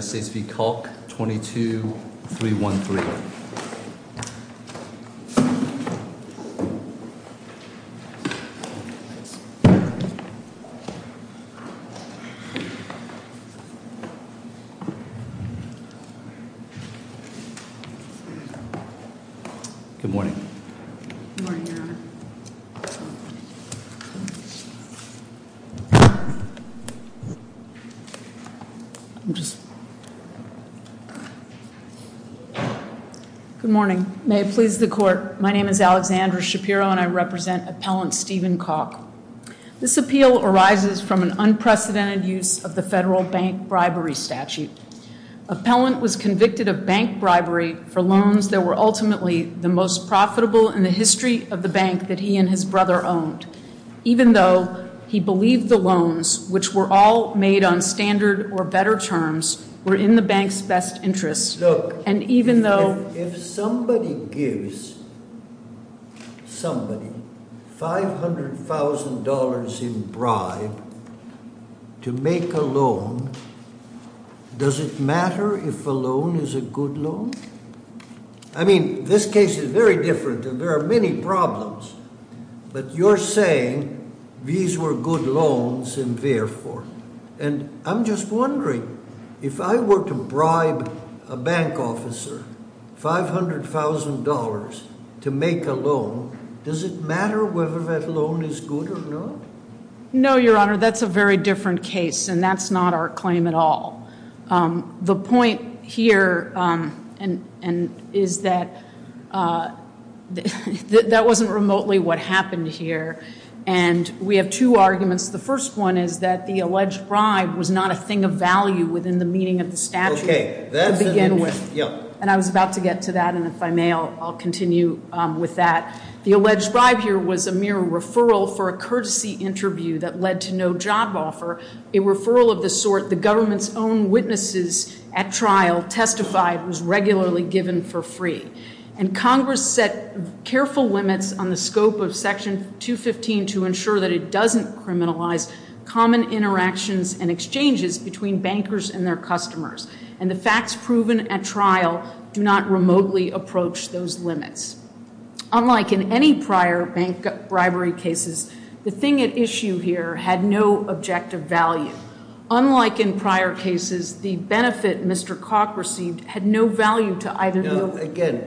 22-313. Good morning. Good morning, Your Honor. Good morning. May it please the Court, my name is Alexandra Shapiro and I represent Appellant Stephen Calk. This appeal arises from an unprecedented use of the federal bank bribery statute. Appellant was convicted of bank bribery for loans that were ultimately the most profitable in the history of the bank that he and his brother owned, even though he believed the loans, which were all made on standard or better terms, were in the bank's best interest. Look, if somebody gives somebody $500,000 in bribe to make a loan, does it matter if a loan is a good loan? I mean, this case is very different and there are many problems, but you're saying these were good loans and therefore. And I'm just wondering, if I were to bribe a bank officer $500,000 to make a loan, does it matter whether that loan is good or not? No, Your Honor, that's a very different case and that's not our claim at all. The point here is that that wasn't remotely what happened here and we have two arguments. The first one is that the alleged bribe was not a thing of value within the meaning of the statute to begin with. And I was about to get to that and if I may, I'll continue with that. The alleged bribe here was a mere referral for a courtesy interview that led to no job offer. A referral of the sort the government's own witnesses at trial testified was regularly given for free. And Congress set careful limits on the scope of Section 215 to ensure that it doesn't criminalize common interactions and exchanges between bankers and their customers. And the facts proven at trial do not remotely approach those limits. Unlike in any prior bank bribery cases, the thing at issue here had no objective value. Unlike in prior cases, the benefit Mr. Koch received had no value to either- Now, again,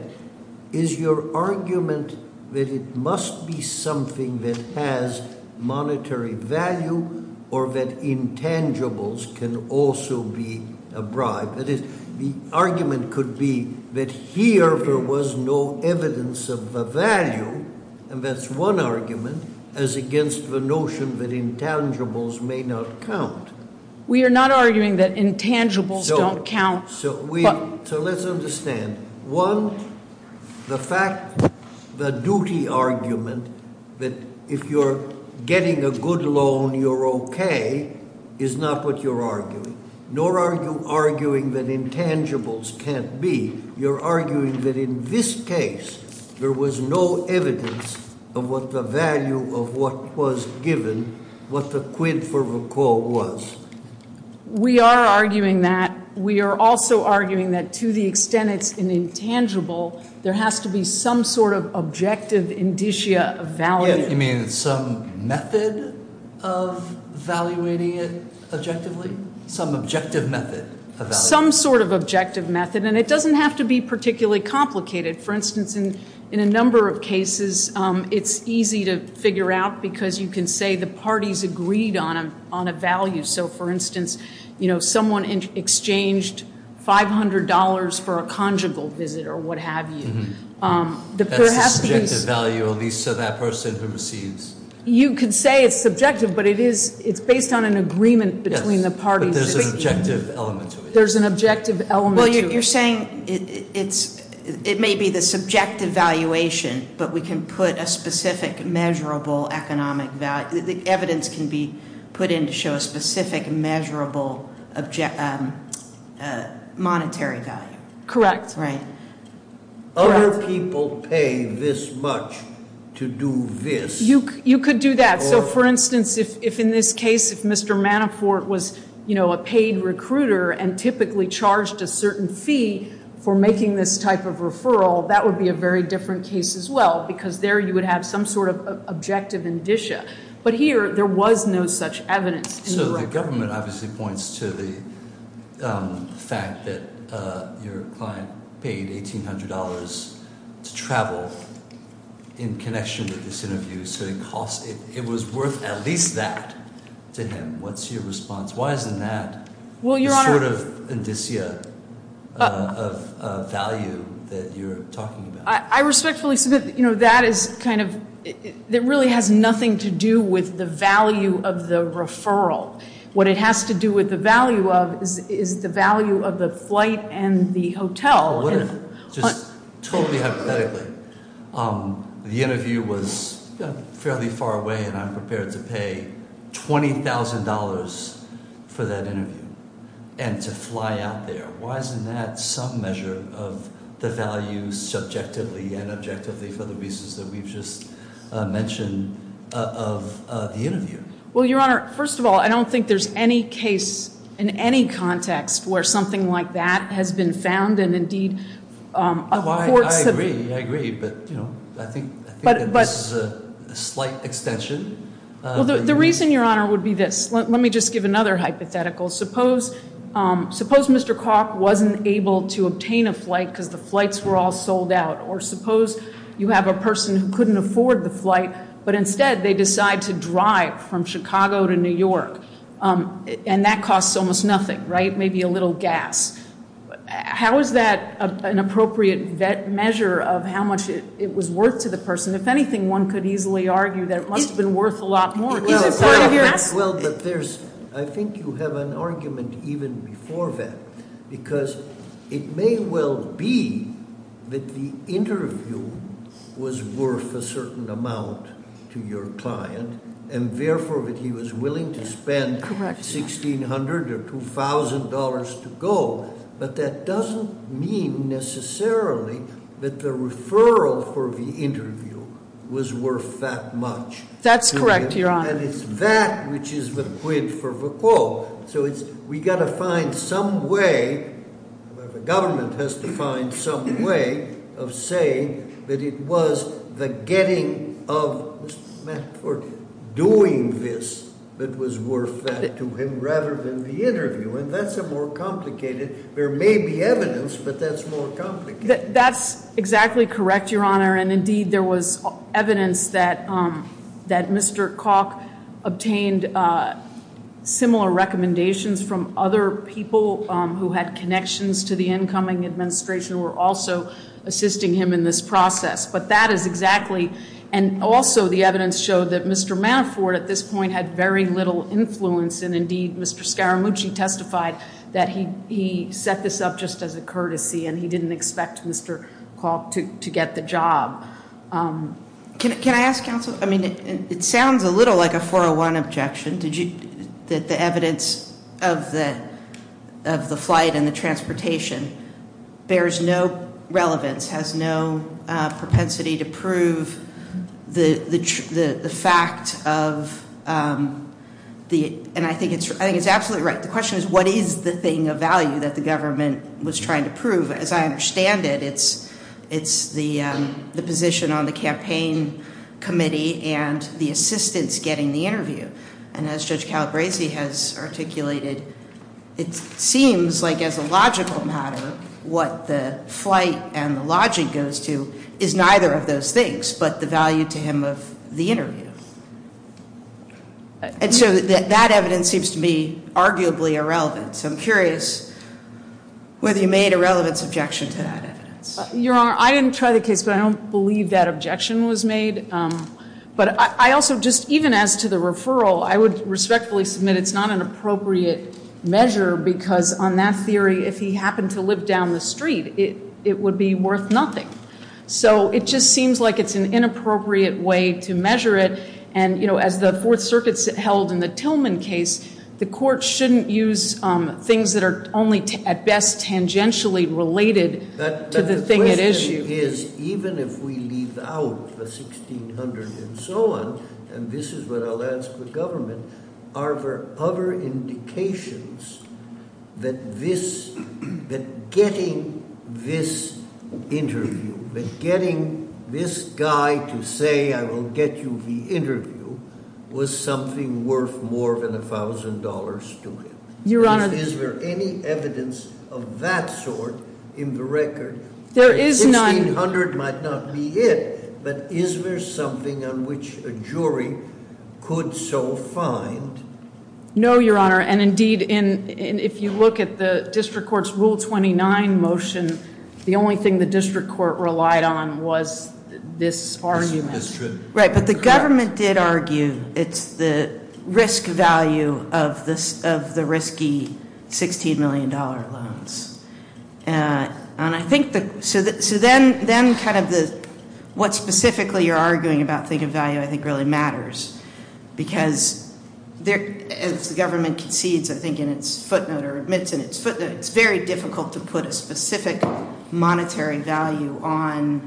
is your argument that it must be something that has monetary value or that intangibles can also be a bribe? That is, the argument could be that here there was no evidence of the value, and that's one argument, as against the notion that intangibles may not count. We are not arguing that intangibles don't count. So let's understand. One, the fact, the duty argument that if you're getting a good loan you're okay is not what you're arguing. Nor are you arguing that intangibles can't be. You're arguing that in this case there was no evidence of what the value of what was given, what the quid for the quo was. We are arguing that. We are also arguing that to the extent it's an intangible, there has to be some sort of objective indicia of value. You mean some method of evaluating it objectively? Some objective method? Some sort of objective method, and it doesn't have to be particularly complicated. For instance, in a number of cases it's easy to figure out because you can say the parties agreed on a value. So, for instance, someone exchanged $500 for a conjugal visit or what have you. That's a subjective value, at least to that person who receives. You could say it's subjective, but it's based on an agreement between the parties. There's an objective element to it. There's an objective element to it. Well, you're saying it may be the subjective valuation, but we can put a specific measurable economic value. The evidence can be put in to show a specific measurable monetary value. Correct. Right. Other people pay this much to do this. You could do that. So, for instance, if in this case if Mr. Manafort was a paid recruiter and typically charged a certain fee for making this type of referral, that would be a very different case as well because there you would have some sort of objective indicia. But here there was no such evidence. So the government obviously points to the fact that your client paid $1,800 to travel in connection with this interview. So it was worth at least that to him. What's your response? Why isn't that the sort of indicia of value that you're talking about? I respectfully submit that really has nothing to do with the value of the referral. What it has to do with the value of is the value of the flight and the hotel. Just totally hypothetically, the interview was fairly far away and I'm prepared to pay $20,000 for that interview and to fly out there. Why isn't that some measure of the value subjectively and objectively for the reasons that we've just mentioned of the interview? Well, Your Honor, first of all, I don't think there's any case in any context where something like that has been found and indeed- I agree, I agree, but I think this is a slight extension. The reason, Your Honor, would be this. Let me just give another hypothetical. Suppose Mr. Kalk wasn't able to obtain a flight because the flights were all sold out. Or suppose you have a person who couldn't afford the flight, but instead they decide to drive from Chicago to New York. And that costs almost nothing, right? Maybe a little gas. How is that an appropriate measure of how much it was worth to the person? If anything, one could easily argue that it must have been worth a lot more. Is it part of your- Well, but there's, I think you have an argument even before that. Because it may well be that the interview was worth a certain amount to your client. And therefore, that he was willing to spend $1,600 or $2,000 to go. But that doesn't mean necessarily that the referral for the interview was worth that much. That's correct, Your Honor. And it's that which is the quid for the quo. So we've got to find some way, the government has to find some way, of saying that it was the getting of Mr. Matford doing this that was worth that to him rather than the interview. And that's a more complicated- there may be evidence, but that's more complicated. That's exactly correct, Your Honor. And indeed, there was evidence that Mr. Kalk obtained similar recommendations from other people who had connections to the incoming administration who were also assisting him in this process. But that is exactly- and also the evidence showed that Mr. Matford at this point had very little influence. And indeed, Mr. Scaramucci testified that he set this up just as a courtesy and he didn't expect Mr. Kalk to get the job. Can I ask counsel- I mean, it sounds a little like a 401 objection. Did you- that the evidence of the flight and the transportation bears no relevance, has no propensity to prove the fact of the- and I think it's absolutely right. The question is what is the thing of value that the government was trying to prove. As I understand it, it's the position on the campaign committee and the assistance getting the interview. And as Judge Calabresi has articulated, it seems like as a logical matter, what the flight and the logic goes to is neither of those things but the value to him of the interview. And so that evidence seems to be arguably irrelevant. So I'm curious whether you made a relevance objection to that evidence. Your Honor, I didn't try the case, but I don't believe that objection was made. But I also just- even as to the referral, I would respectfully submit it's not an appropriate measure because on that theory, if he happened to live down the street, it would be worth nothing. So it just seems like it's an inappropriate way to measure it. And as the Fourth Circuit held in the Tillman case, the court shouldn't use things that are only at best tangentially related to the thing at issue. But the question is even if we leave out the 1600 and so on, and this is what I'll ask the government, are there other indications that this- that getting this interview, that getting this guy to say I will get you the interview was something worth more than $1,000 to him? Your Honor- Is there any evidence of that sort in the record? There is none. 1600 might not be it, but is there something on which a jury could so find? No, Your Honor. Your Honor, and indeed if you look at the district court's Rule 29 motion, the only thing the district court relied on was this argument. Right, but the government did argue it's the risk value of the risky $16 million loans. And I think the- so then kind of the- what specifically you're arguing about think of value I think really matters because as the government concedes I think in its footnote or admits in its footnote, it's very difficult to put a specific monetary value on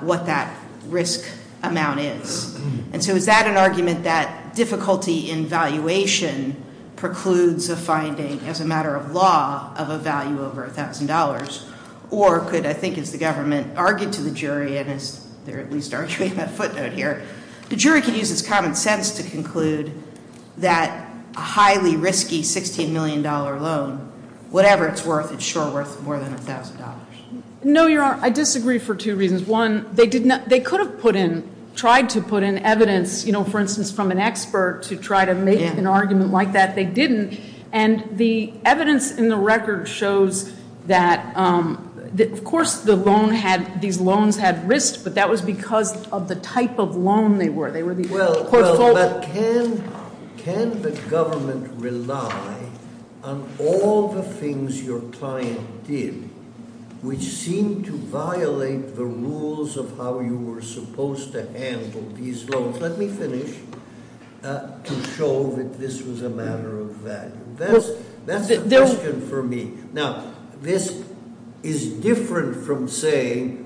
what that risk amount is. And so is that an argument that difficulty in valuation precludes a finding as a matter of law of a value over $1,000? Or could I think as the government argued to the jury, and as they're at least arguing that footnote here, the jury could use its common sense to conclude that a highly risky $16 million loan, whatever it's worth, it's sure worth more than $1,000. No, Your Honor. I disagree for two reasons. One, they could have put in- tried to put in evidence, you know, for instance from an expert to try to make an argument like that. They didn't. And the evidence in the record shows that of course the loan had- these loans had risk, but that was because of the type of loan they were. They were the- Well, but can the government rely on all the things your client did, which seemed to violate the rules of how you were supposed to handle these loans? Let me finish to show that this was a matter of value. That's the question for me. Now, this is different from saying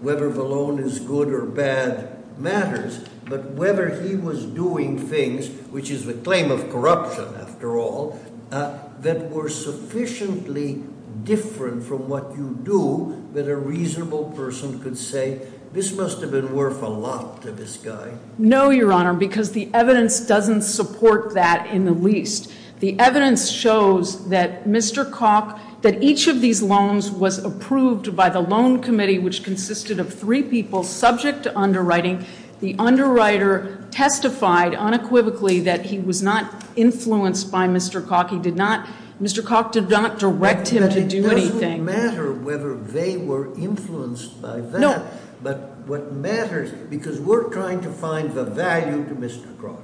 whether the loan is good or bad matters, but whether he was doing things, which is the claim of corruption after all, that were sufficiently different from what you do that a reasonable person could say, this must have been worth a lot to this guy. No, Your Honor, because the evidence doesn't support that in the least. The evidence shows that Mr. Koch, that each of these loans was approved by the loan committee, which consisted of three people subject to underwriting. The underwriter testified unequivocally that he was not influenced by Mr. Koch. He did not- Mr. Koch did not direct him to do anything. It doesn't matter whether they were influenced by that. No. But what matters, because we're trying to find the value to Mr. Koch.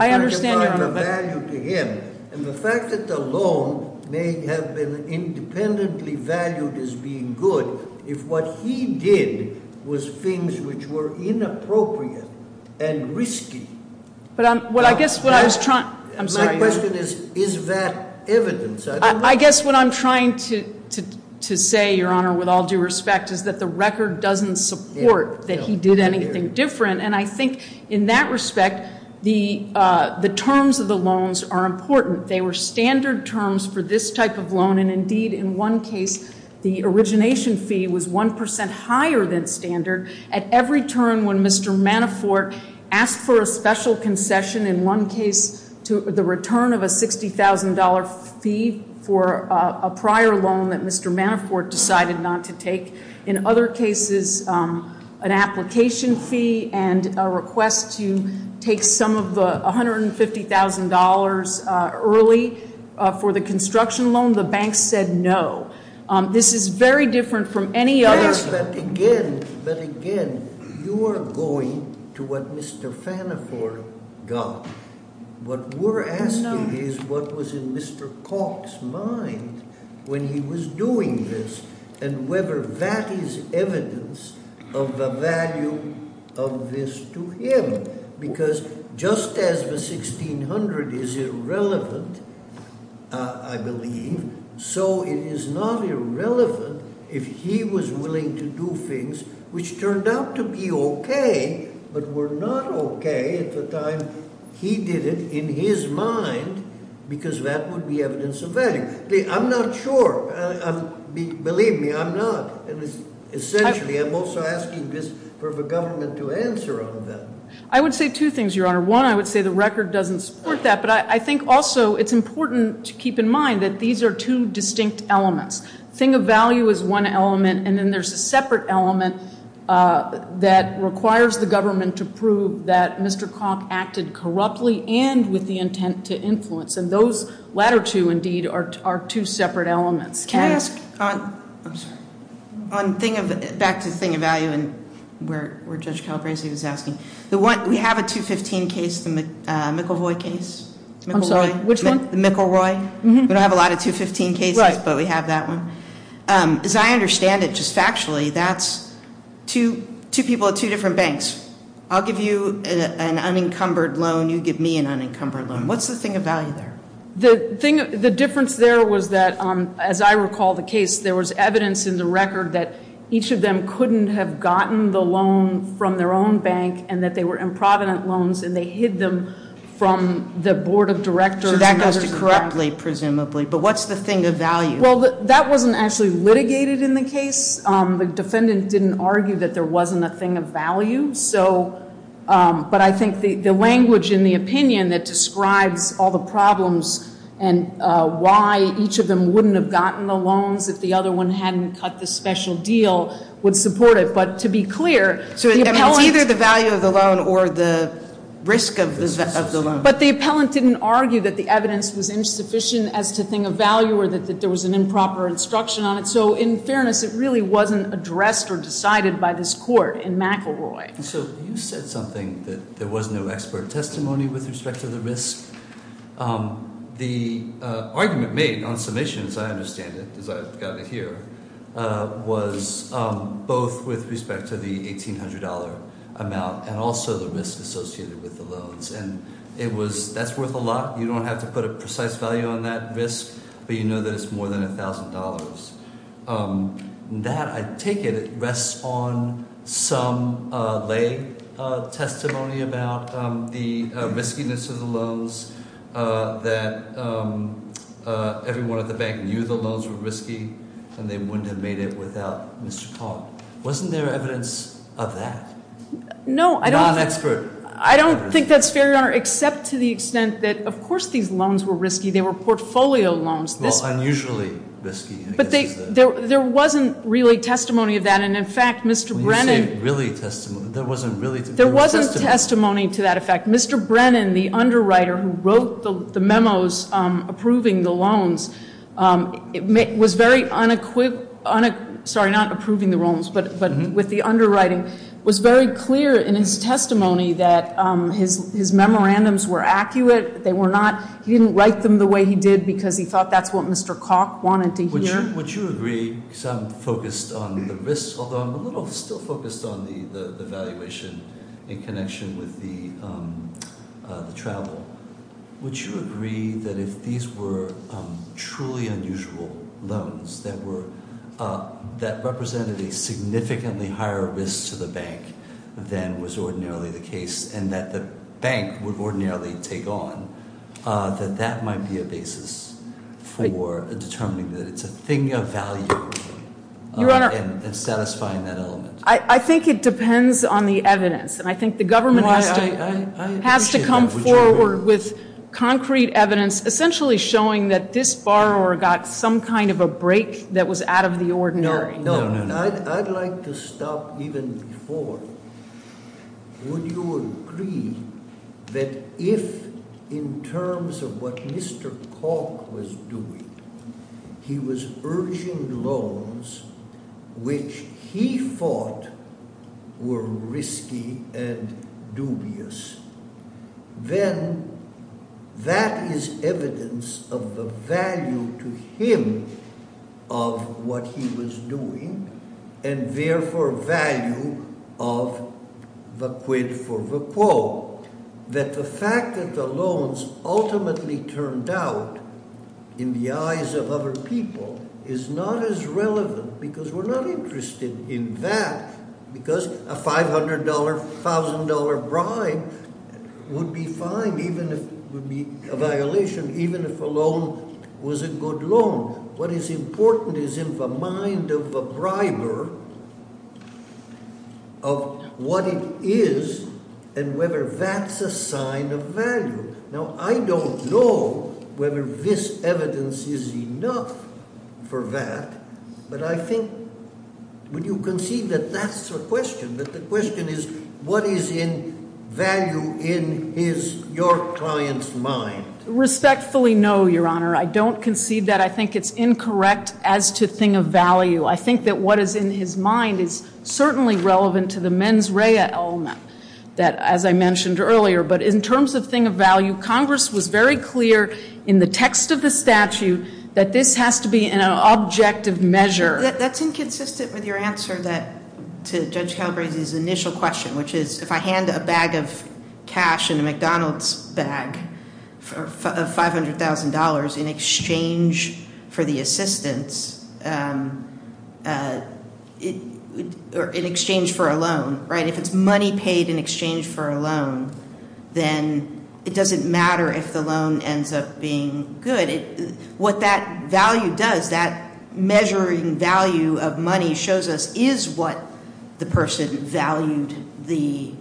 I understand, Your Honor, but- We're trying to find the value to him. And the fact that the loan may have been independently valued as being good, if what he did was things which were inappropriate and risky- But I guess what I was trying- I'm sorry. My question is, is that evidence? I guess what I'm trying to say, Your Honor, with all due respect, is that the record doesn't support that he did anything different. And I think in that respect, the terms of the loans are important. They were standard terms for this type of loan. And indeed, in one case, the origination fee was 1% higher than standard. At every turn when Mr. Manafort asked for a special concession, in one case, the return of a $60,000 fee for a prior loan that Mr. Manafort decided not to take. In other cases, an application fee and a request to take some of the $150,000 early for the construction loan, the bank said no. This is very different from any other- But again, you are going to what Mr. Manafort got. What we're asking is what was in Mr. Cox's mind when he was doing this and whether that is evidence of the value of this to him. Because just as the $1,600 is irrelevant, I believe, so it is not irrelevant if he was willing to do things which turned out to be okay but were not okay at the time he did it in his mind because that would be evidence of value. I'm not sure. Believe me, I'm not. Essentially, I'm also asking this for the government to answer on that. I would say two things, Your Honor. One, I would say the record doesn't support that. But I think also it's important to keep in mind that these are two distinct elements. Thing of value is one element, and then there's a separate element that requires the government to prove that Mr. Cox acted corruptly and with the intent to influence. And those latter two, indeed, are two separate elements. Can I ask, back to the thing of value where Judge Calabresi was asking, we have a 215 case, the McElroy case. I'm sorry, which one? The McElroy. We don't have a lot of 215 cases, but we have that one. As I understand it, just factually, that's two people at two different banks. I'll give you an unencumbered loan. You give me an unencumbered loan. What's the thing of value there? The difference there was that, as I recall the case, there was evidence in the record that each of them couldn't have gotten the loan from their own bank and that they were improvident loans, and they hid them from the Board of Directors. So that goes to corruptly, presumably. But what's the thing of value? Well, that wasn't actually litigated in the case. The defendant didn't argue that there wasn't a thing of value. And why each of them wouldn't have gotten the loans if the other one hadn't cut the special deal would support it. But to be clear, the appellant- So it's either the value of the loan or the risk of the loan. But the appellant didn't argue that the evidence was insufficient as to thing of value or that there was an improper instruction on it. So in fairness, it really wasn't addressed or decided by this court in McElroy. So you said something that there was no expert testimony with respect to the risk. The argument made on submission, as I understand it, as I've gotten to hear, was both with respect to the $1,800 amount and also the risk associated with the loans. And that's worth a lot. You don't have to put a precise value on that risk, but you know that it's more than $1,000. And that, I take it, rests on some lay testimony about the riskiness of the loans, that everyone at the bank knew the loans were risky and they wouldn't have made it without Mr. Conn. Wasn't there evidence of that? No, I don't- Non-expert. I don't think that's fair, Your Honor, except to the extent that, of course, these loans were risky. They were portfolio loans. Well, unusually risky, I guess is the- But there wasn't really testimony of that. And, in fact, Mr. Brennan- When you say really testimony, there wasn't really- There wasn't testimony to that effect. Mr. Brennan, the underwriter who wrote the memos approving the loans, was very unequiv- sorry, not approving the loans, but with the underwriting, was very clear in his testimony that his memorandums were accurate. They were not, he didn't write them the way he did because he thought that's what Mr. Koch wanted to hear. Would you agree, because I'm focused on the risks, although I'm a little still focused on the valuation in connection with the travel. Would you agree that if these were truly unusual loans that represented a significantly higher risk to the bank than was ordinarily the case and that the bank would ordinarily take on, that that might be a basis for determining that it's a thing of value and satisfying that element? I think it depends on the evidence, and I think the government has to come forward with concrete evidence essentially showing that this borrower got some kind of a break that was out of the ordinary. No, I'd like to stop even before. Would you agree that if in terms of what Mr. Koch was doing, he was urging loans which he thought were risky and dubious, then that is evidence of the value to him of what he was doing and therefore value of the quid for the quo. That the fact that the loans ultimately turned out in the eyes of other people is not as relevant because we're not interested in that. Because a $500, $1,000 bribe would be fine, would be a violation even if a loan was a good loan. What is important is in the mind of the briber of what it is and whether that's a sign of value. Now, I don't know whether this evidence is enough for that, but I think when you concede that that's the question, that the question is what is in value in your client's mind? Respectfully, no, Your Honor. I don't concede that. I think it's incorrect as to thing of value. I think that what is in his mind is certainly relevant to the mens rea element that, as I mentioned earlier. But in terms of thing of value, Congress was very clear in the text of the statute that this has to be an objective measure. That's inconsistent with your answer to Judge Calabresi's initial question, which is if I hand a bag of cash in a McDonald's bag of $500,000 in exchange for the assistance or in exchange for a loan, right? If it's money paid in exchange for a loan, then it doesn't matter if the loan ends up being good. What that value does, that measuring value of money shows us is what the person valued the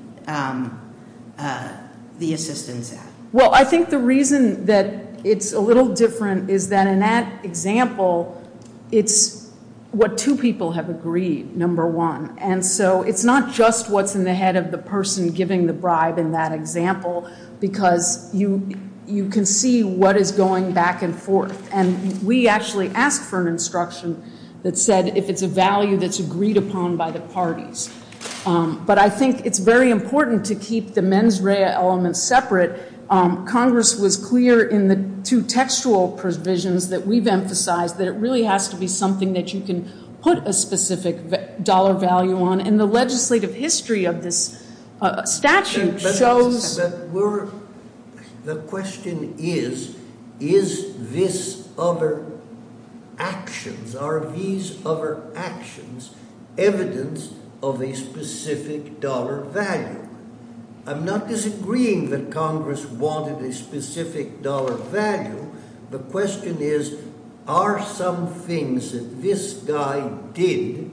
assistance at. Well, I think the reason that it's a little different is that in that example, it's what two people have agreed, number one. And so it's not just what's in the head of the person giving the bribe in that example, because you can see what is going back and forth. And we actually asked for an instruction that said if it's a value that's agreed upon by the parties. But I think it's very important to keep the mens rea element separate. Congress was clear in the two textual provisions that we've emphasized, that it really has to be something that you can put a specific dollar value on. And the legislative history of this statute shows. The question is, is this other actions, are these other actions evidence of a specific dollar value? I'm not disagreeing that Congress wanted a specific dollar value. The question is, are some things that this guy did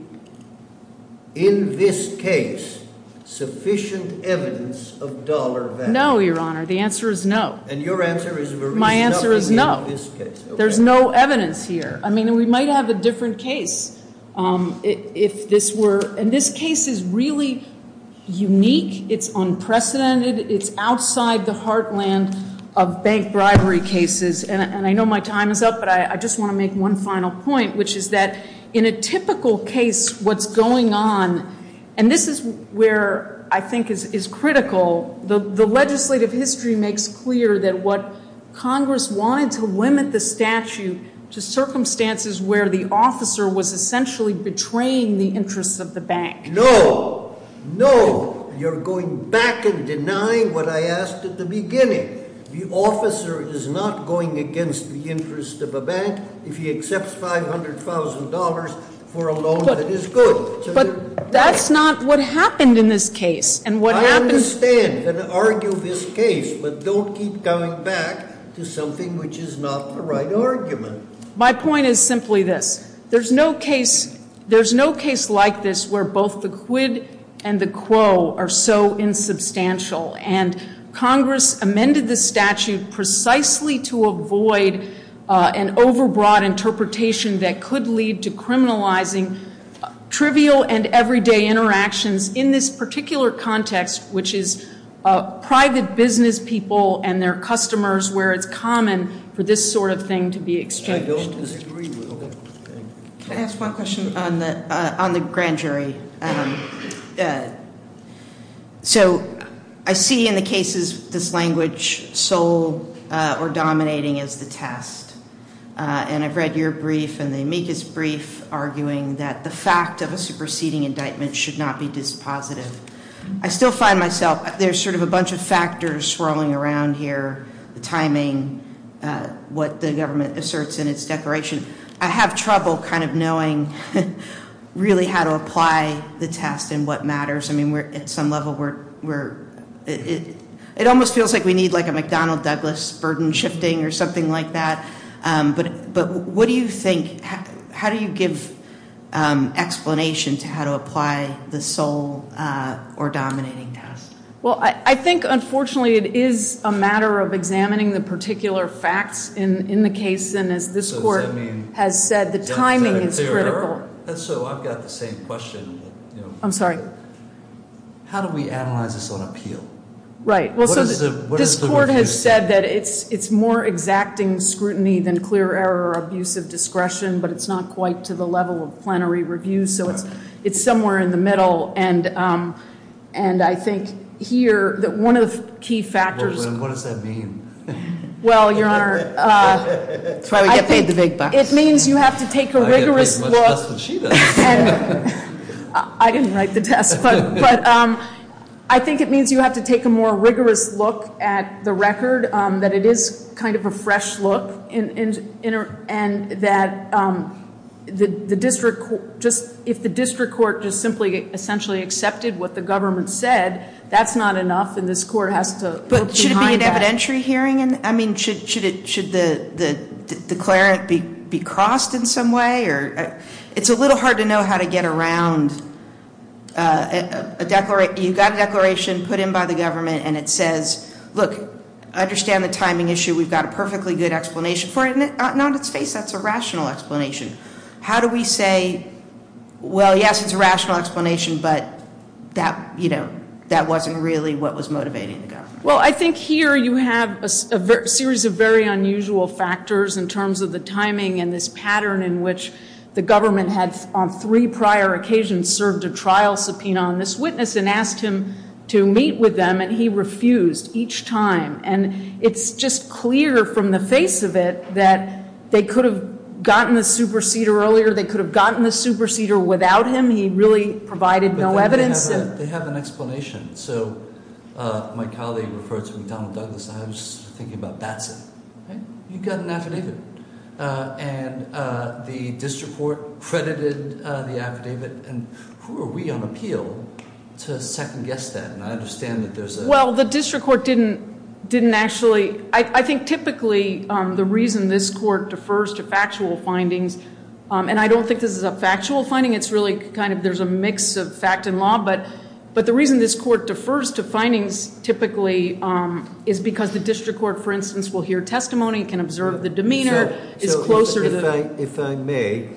in this case sufficient evidence of dollar value? No, Your Honor. The answer is no. And your answer is very stubborn in this case. My answer is no. There's no evidence here. I mean, we might have a different case if this were. And this case is really unique. It's unprecedented. It's outside the heartland of bank bribery cases. And I know my time is up, but I just want to make one final point, which is that in a typical case what's going on, and this is where I think is critical, the legislative history makes clear that what Congress wanted to limit the statute to circumstances where the officer was essentially betraying the interests of the bank. No. No. You're going back and denying what I asked at the beginning. The officer is not going against the interest of a bank if he accepts $500,000 for a loan that is good. But that's not what happened in this case. I understand and argue this case, but don't keep coming back to something which is not the right argument. My point is simply this. There's no case like this where both the quid and the quo are so insubstantial, and Congress amended the statute precisely to avoid an overbroad interpretation that could lead to criminalizing trivial and everyday interactions in this particular context, which is private business people and their customers where it's common for this sort of thing to be exchanged. I don't disagree with that. Can I ask one question on the grand jury? So I see in the cases this language sole or dominating as the test, and I've read your brief and the amicus brief arguing that the fact of a superseding indictment should not be dispositive. I still find myself, there's sort of a bunch of factors swirling around here, the timing, what the government asserts in its declaration. I have trouble kind of knowing really how to apply the test and what matters. I mean we're at some level where it almost feels like we need like a McDonnell-Douglas burden shifting or something like that. But what do you think, how do you give explanation to how to apply the sole or dominating test? Well, I think unfortunately it is a matter of examining the particular facts in the case, and as this court has said, the timing is critical. So I've got the same question. I'm sorry. How do we analyze this on appeal? Right. This court has said that it's more exacting scrutiny than clear error or abuse of discretion, but it's not quite to the level of plenary review, so it's somewhere in the middle. And I think here that one of the key factors- What does that mean? Well, your Honor- That's why we get paid the big bucks. It means you have to take a rigorous look- I get paid as much as she does. I didn't write the test, but I think it means you have to take a more rigorous look at the record, that it is kind of a fresh look, and that if the district court just simply essentially accepted what the government said, that's not enough, and this court has to look behind that. But should it be an evidentiary hearing? I mean, should the declarant be crossed in some way? It's a little hard to know how to get around a declaration. It's a declaration put in by the government, and it says, look, I understand the timing issue. We've got a perfectly good explanation for it, and on its face, that's a rational explanation. How do we say, well, yes, it's a rational explanation, but that wasn't really what was motivating the government? Well, I think here you have a series of very unusual factors in terms of the timing and this pattern in which the government had on three prior occasions served a trial subpoena on this witness and asked him to meet with them, and he refused each time. And it's just clear from the face of it that they could have gotten the superseder earlier. They could have gotten the superseder without him. He really provided no evidence. They have an explanation. So my colleague referred to McDonnell Douglas, and I was thinking about that's it. You've got an affidavit, and the district court credited the affidavit, and who are we on appeal to second-guess that? And I understand that there's a- Well, the district court didn't actually. I think typically the reason this court defers to factual findings, and I don't think this is a factual finding. It's really kind of there's a mix of fact and law. But the reason this court defers to findings typically is because the district court, for instance, will hear testimony, can observe the demeanor, is closer to- If I may,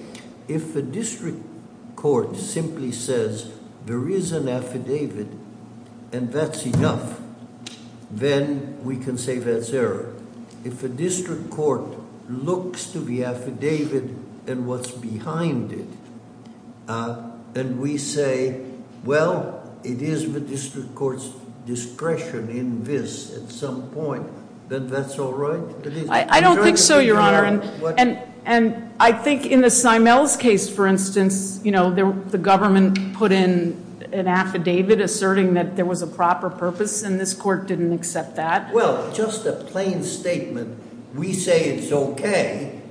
if a district court simply says there is an affidavit and that's enough, then we can say that's error. If a district court looks to the affidavit and what's behind it, and we say, well, it is the district court's discretion in this at some point, then that's all right? I don't think so, Your Honor. And I think in the Simel's case, for instance, the government put in an affidavit asserting that there was a proper purpose, and this court didn't accept that. Well, just a plain statement, we say it's okay,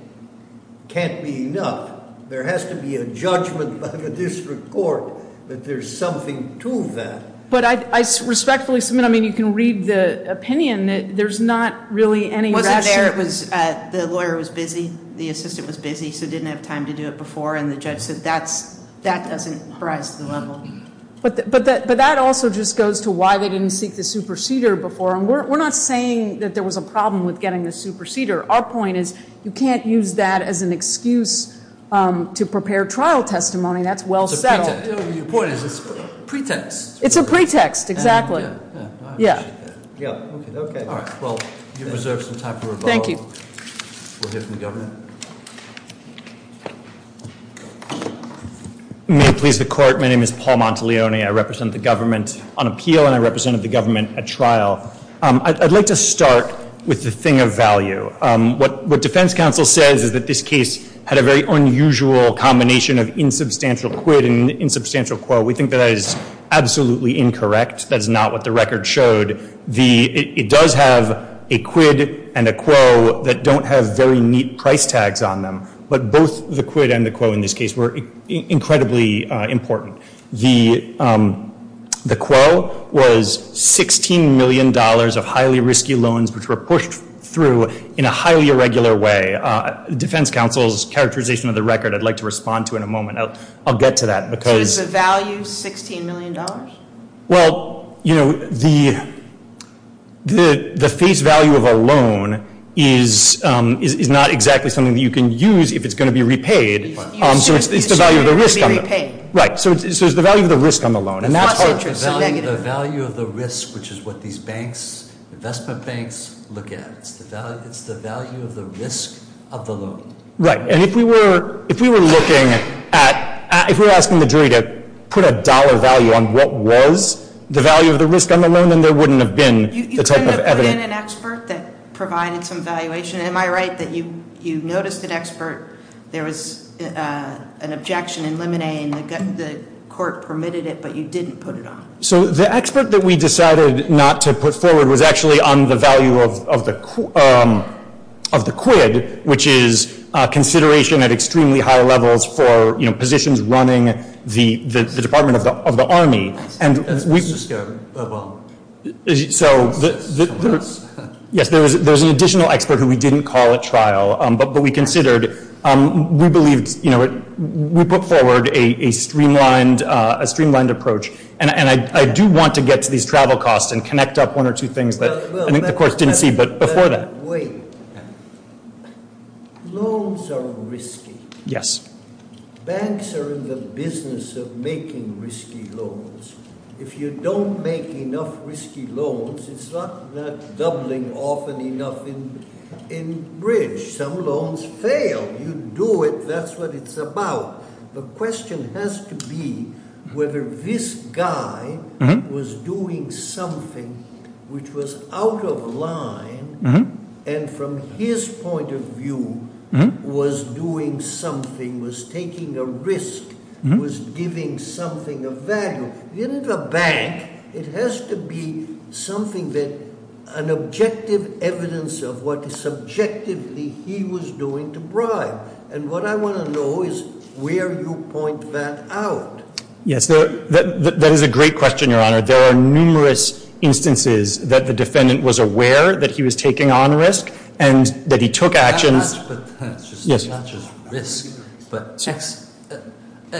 can't be enough. There has to be a judgment by the district court that there's something to that. But I respectfully submit, I mean, you can read the opinion that there's not really any- Wasn't there, it was the lawyer was busy, the assistant was busy, so didn't have time to do it before, and the judge said that doesn't rise to the level. But that also just goes to why they didn't seek the superceder before. And we're not saying that there was a problem with getting the superceder. Our point is you can't use that as an excuse to prepare trial testimony. That's well settled. Your point is it's a pretext. It's a pretext, exactly. Yeah, I appreciate that. Yeah, okay. All right, well, you've reserved some time for rebuttal. Thank you. We'll hear from the government. May it please the Court. My name is Paul Monteleone. I represent the government on appeal, and I represented the government at trial. I'd like to start with the thing of value. What defense counsel says is that this case had a very unusual combination of insubstantial quid and insubstantial quo. We think that is absolutely incorrect. That is not what the record showed. It does have a quid and a quo that don't have very neat price tags on them. But both the quid and the quo in this case were incredibly important. The quo was $16 million of highly risky loans, which were pushed through in a highly irregular way. Defense counsel's characterization of the record I'd like to respond to in a moment. I'll get to that. So is the value $16 million? Well, you know, the face value of a loan is not exactly something that you can use if it's going to be repaid. So it's the value of the risk on the loan. Right, so it's the value of the risk on the loan. And that's part of the value of the risk, which is what these banks, investment banks, look at. It's the value of the risk of the loan. Right. And if we were looking at, if we were asking the jury to put a dollar value on what was the value of the risk on the loan, then there wouldn't have been the type of evidence. You tend to put in an expert that provided some valuation. Am I right that you noticed an expert? There was an objection in Lemonet, and the court permitted it, but you didn't put it on? So the expert that we decided not to put forward was actually on the value of the quid, which is consideration at extremely high levels for, you know, positions running the Department of the Army. Yes, there was an additional expert who we didn't call at trial, but we considered. We believed, you know, we put forward a streamlined approach. And I do want to get to these travel costs and connect up one or two things that I think the court didn't see before that. Wait. Loans are risky. Yes. Banks are in the business of making risky loans. If you don't make enough risky loans, it's not doubling often enough in bridge. Some loans fail. You do it. That's what it's about. The question has to be whether this guy was doing something which was out of line and from his point of view was doing something, was taking a risk, was giving something of value. In the bank, it has to be something that an objective evidence of what subjectively he was doing to bribe. And what I want to know is where you point that out. Yes. That is a great question, Your Honor. There are numerous instances that the defendant was aware that he was taking on risk and that he took actions. Not just risk, but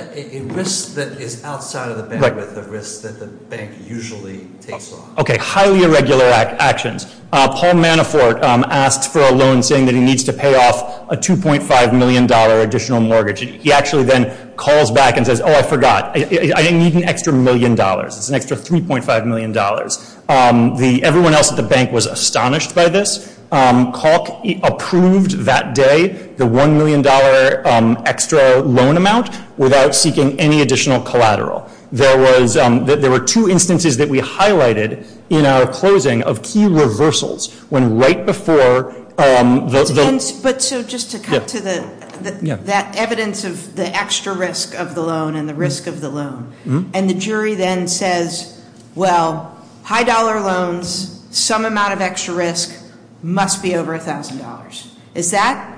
a risk that is outside of the bandwidth of risk that the bank usually takes on. Okay. Highly irregular actions. Paul Manafort asked for a loan saying that he needs to pay off a $2.5 million additional mortgage. He actually then calls back and says, oh, I forgot. I need an extra million dollars. It's an extra $3.5 million. Everyone else at the bank was astonished by this. Kalk approved that day the $1 million extra loan amount without seeking any additional collateral. There were two instances that we highlighted in our closing of key reversals. When right before the- But so just to cut to that evidence of the extra risk of the loan and the risk of the loan. And the jury then says, well, high dollar loans, some amount of extra risk, must be over $1,000. Is that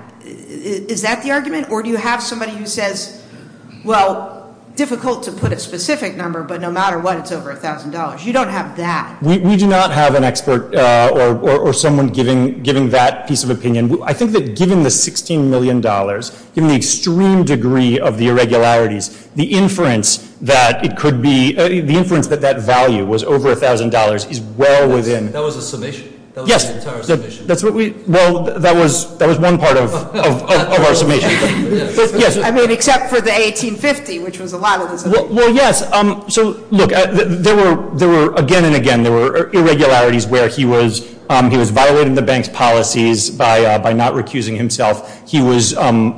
the argument? Or do you have somebody who says, well, difficult to put a specific number, but no matter what, it's over $1,000. You don't have that. We do not have an expert or someone giving that piece of opinion. I think that given the $16 million, given the extreme degree of the irregularities, the inference that it could be, the inference that that value was over $1,000 is well within- That was a summation? Yes. That was the entire summation? Well, that was one part of our summation. I mean, except for the $1,850, which was a lot of the- Well, yes. So look, there were again and again, there were irregularities where he was violating the bank's policies by not recusing himself. He was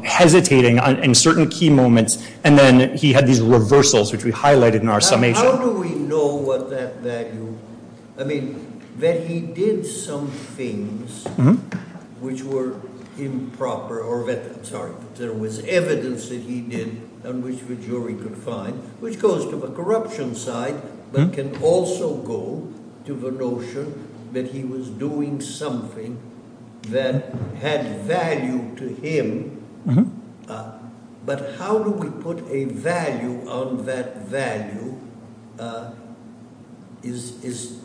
hesitating in certain key moments. And then he had these reversals, which we highlighted in our summation. How do we know what that value- I mean, that he did some things which were improper- I'm sorry. There was evidence that he did on which the jury could find, which goes to the corruption side, but can also go to the notion that he was doing something that had value to him. But how do we put a value on that value is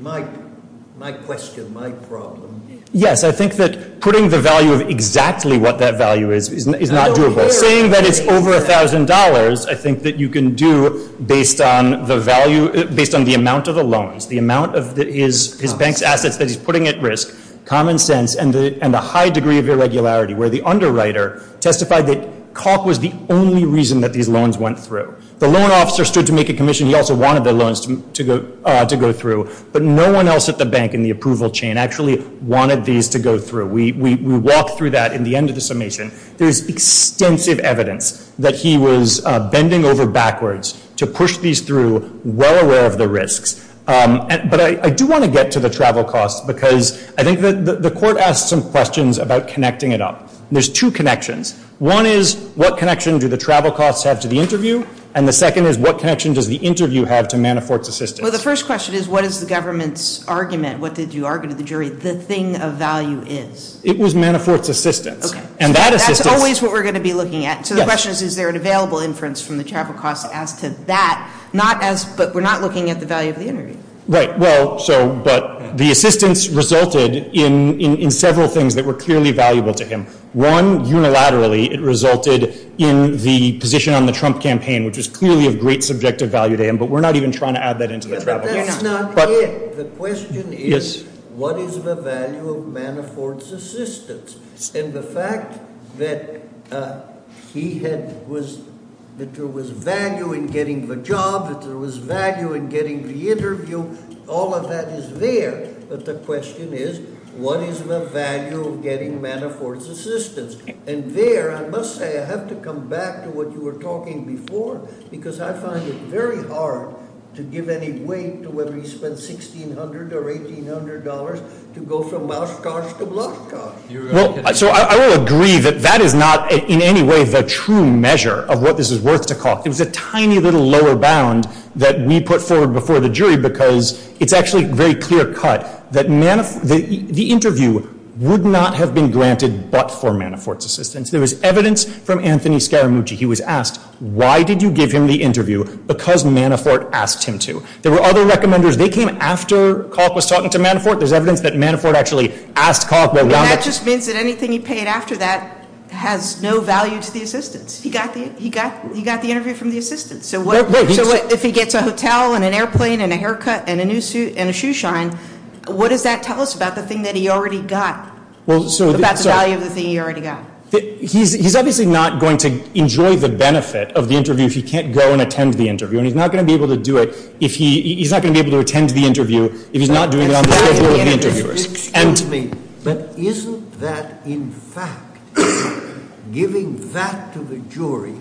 my question, my problem. Yes, I think that putting the value of exactly what that value is is not doable. Saying that it's over $1,000, I think that you can do based on the amount of the loans, the amount of his bank's assets that he's putting at risk, common sense, and the high degree of irregularity where the underwriter testified that COC was the only reason that these loans went through. The loan officer stood to make a commission. He also wanted the loans to go through. But no one else at the bank in the approval chain actually wanted these to go through. We walk through that in the end of the summation. There's extensive evidence that he was bending over backwards to push these through, well aware of the risks. But I do want to get to the travel costs because I think the court asked some questions about connecting it up. There's two connections. One is what connection do the travel costs have to the interview? And the second is what connection does the interview have to Manafort's assistance? Well, the first question is what is the government's argument? What did you argue to the jury the thing of value is? It was Manafort's assistance. Okay. And that assistance. That's always what we're going to be looking at. Yes. So the question is, is there an available inference from the travel costs as to that? But we're not looking at the value of the interview. Right. But the assistance resulted in several things that were clearly valuable to him. One, unilaterally, it resulted in the position on the Trump campaign, which was clearly of great subjective value to him. But we're not even trying to add that into the travel costs. But that's not it. The question is, what is the value of Manafort's assistance? And the fact that he had was – that there was value in getting the job, that there was value in getting the interview, all of that is there. But the question is, what is the value of getting Manafort's assistance? And there, I must say, I have to come back to what you were talking before because I find it very hard to give any weight to whether he spent $1,600 or $1,800 to go from Mouse Cars to Block Cars. Well, so I will agree that that is not in any way the true measure of what this is worth to Kalk. It was a tiny little lower bound that we put forward before the jury because it's actually a very clear cut that the interview would not have been granted but for Manafort's assistance. There was evidence from Anthony Scaramucci. He was asked, why did you give him the interview? Because Manafort asked him to. There were other recommenders. They came after Kalk was talking to Manafort. There's evidence that Manafort actually asked Kalk. And that just means that anything he paid after that has no value to the assistance. He got the interview from the assistance. So if he gets a hotel and an airplane and a haircut and a new suit and a shoeshine, what does that tell us about the thing that he already got, about the value of the thing he already got? He's obviously not going to enjoy the benefit of the interview if he can't go and attend the interview. And he's not going to be able to do it if he's not going to be able to attend the interview if he's not doing it on the schedule of the interviewers. Excuse me. But isn't that, in fact, giving that to the jury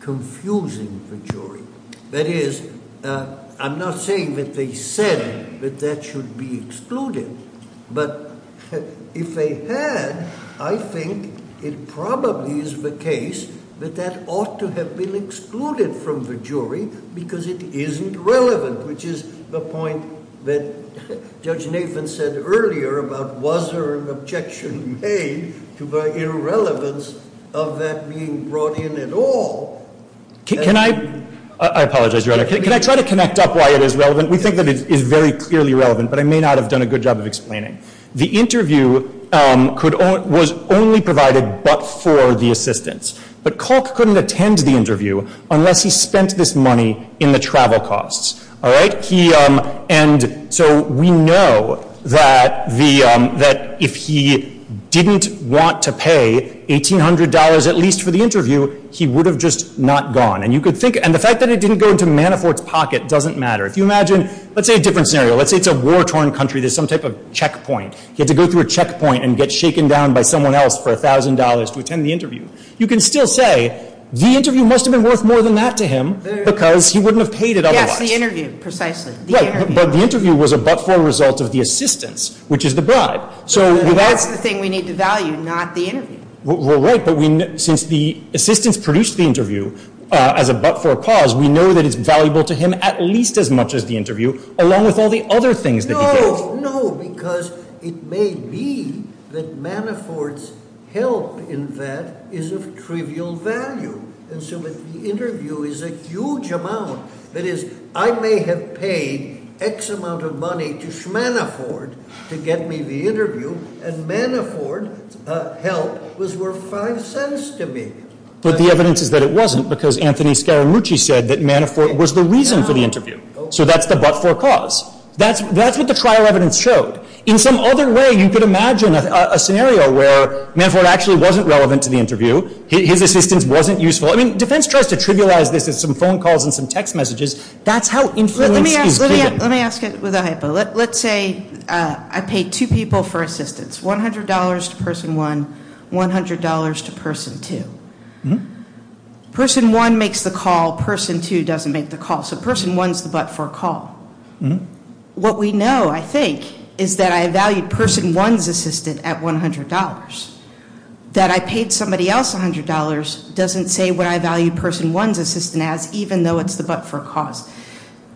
confusing the jury? That is, I'm not saying that they said that that should be excluded. But if they had, I think it probably is the case that that ought to have been excluded from the jury because it isn't relevant, which is the point that Judge Nathan said earlier about was there an objection made to the irrelevance of that being brought in at all. Can I? I apologize, Your Honor. Can I try to connect up why it is relevant? We think that it is very clearly relevant, but I may not have done a good job of explaining. The interview was only provided but for the assistants. But Kalk couldn't attend the interview unless he spent this money in the travel costs. All right? And so we know that if he didn't want to pay $1,800 at least for the interview, he would have just not gone. And the fact that it didn't go into Manafort's pocket doesn't matter. If you imagine, let's say a different scenario. Let's say it's a war-torn country. There's some type of checkpoint. He had to go through a checkpoint and get shaken down by someone else for $1,000 to attend the interview. You can still say the interview must have been worth more than that to him because he wouldn't have paid it otherwise. Yes, the interview precisely, the interview. Right, but the interview was a but-for result of the assistants, which is the bribe. And that's the thing we need to value, not the interview. We're right, but since the assistants produced the interview as a but-for cause, we know that it's valuable to him at least as much as the interview along with all the other things that he paid. No, no, because it may be that Manafort's help in that is of trivial value. And so the interview is a huge amount. That is, I may have paid X amount of money to Schmanafort to get me the interview, and Manafort's help was worth $0.05 to me. But the evidence is that it wasn't because Anthony Scaramucci said that Manafort was the reason for the interview. So that's the but-for cause. That's what the trial evidence showed. In some other way, you could imagine a scenario where Manafort actually wasn't relevant to the interview. His assistance wasn't useful. I mean, defense tries to trivialize this as some phone calls and some text messages. That's how influence is created. Let me ask it with a hypo. Let's say I paid two people for assistance, $100 to person one, $100 to person two. Person one makes the call. Person two doesn't make the call. So person one's the but-for call. What we know, I think, is that I valued person one's assistant at $100. That I paid somebody else $100 doesn't say what I valued person one's assistant as, even though it's the but-for cause.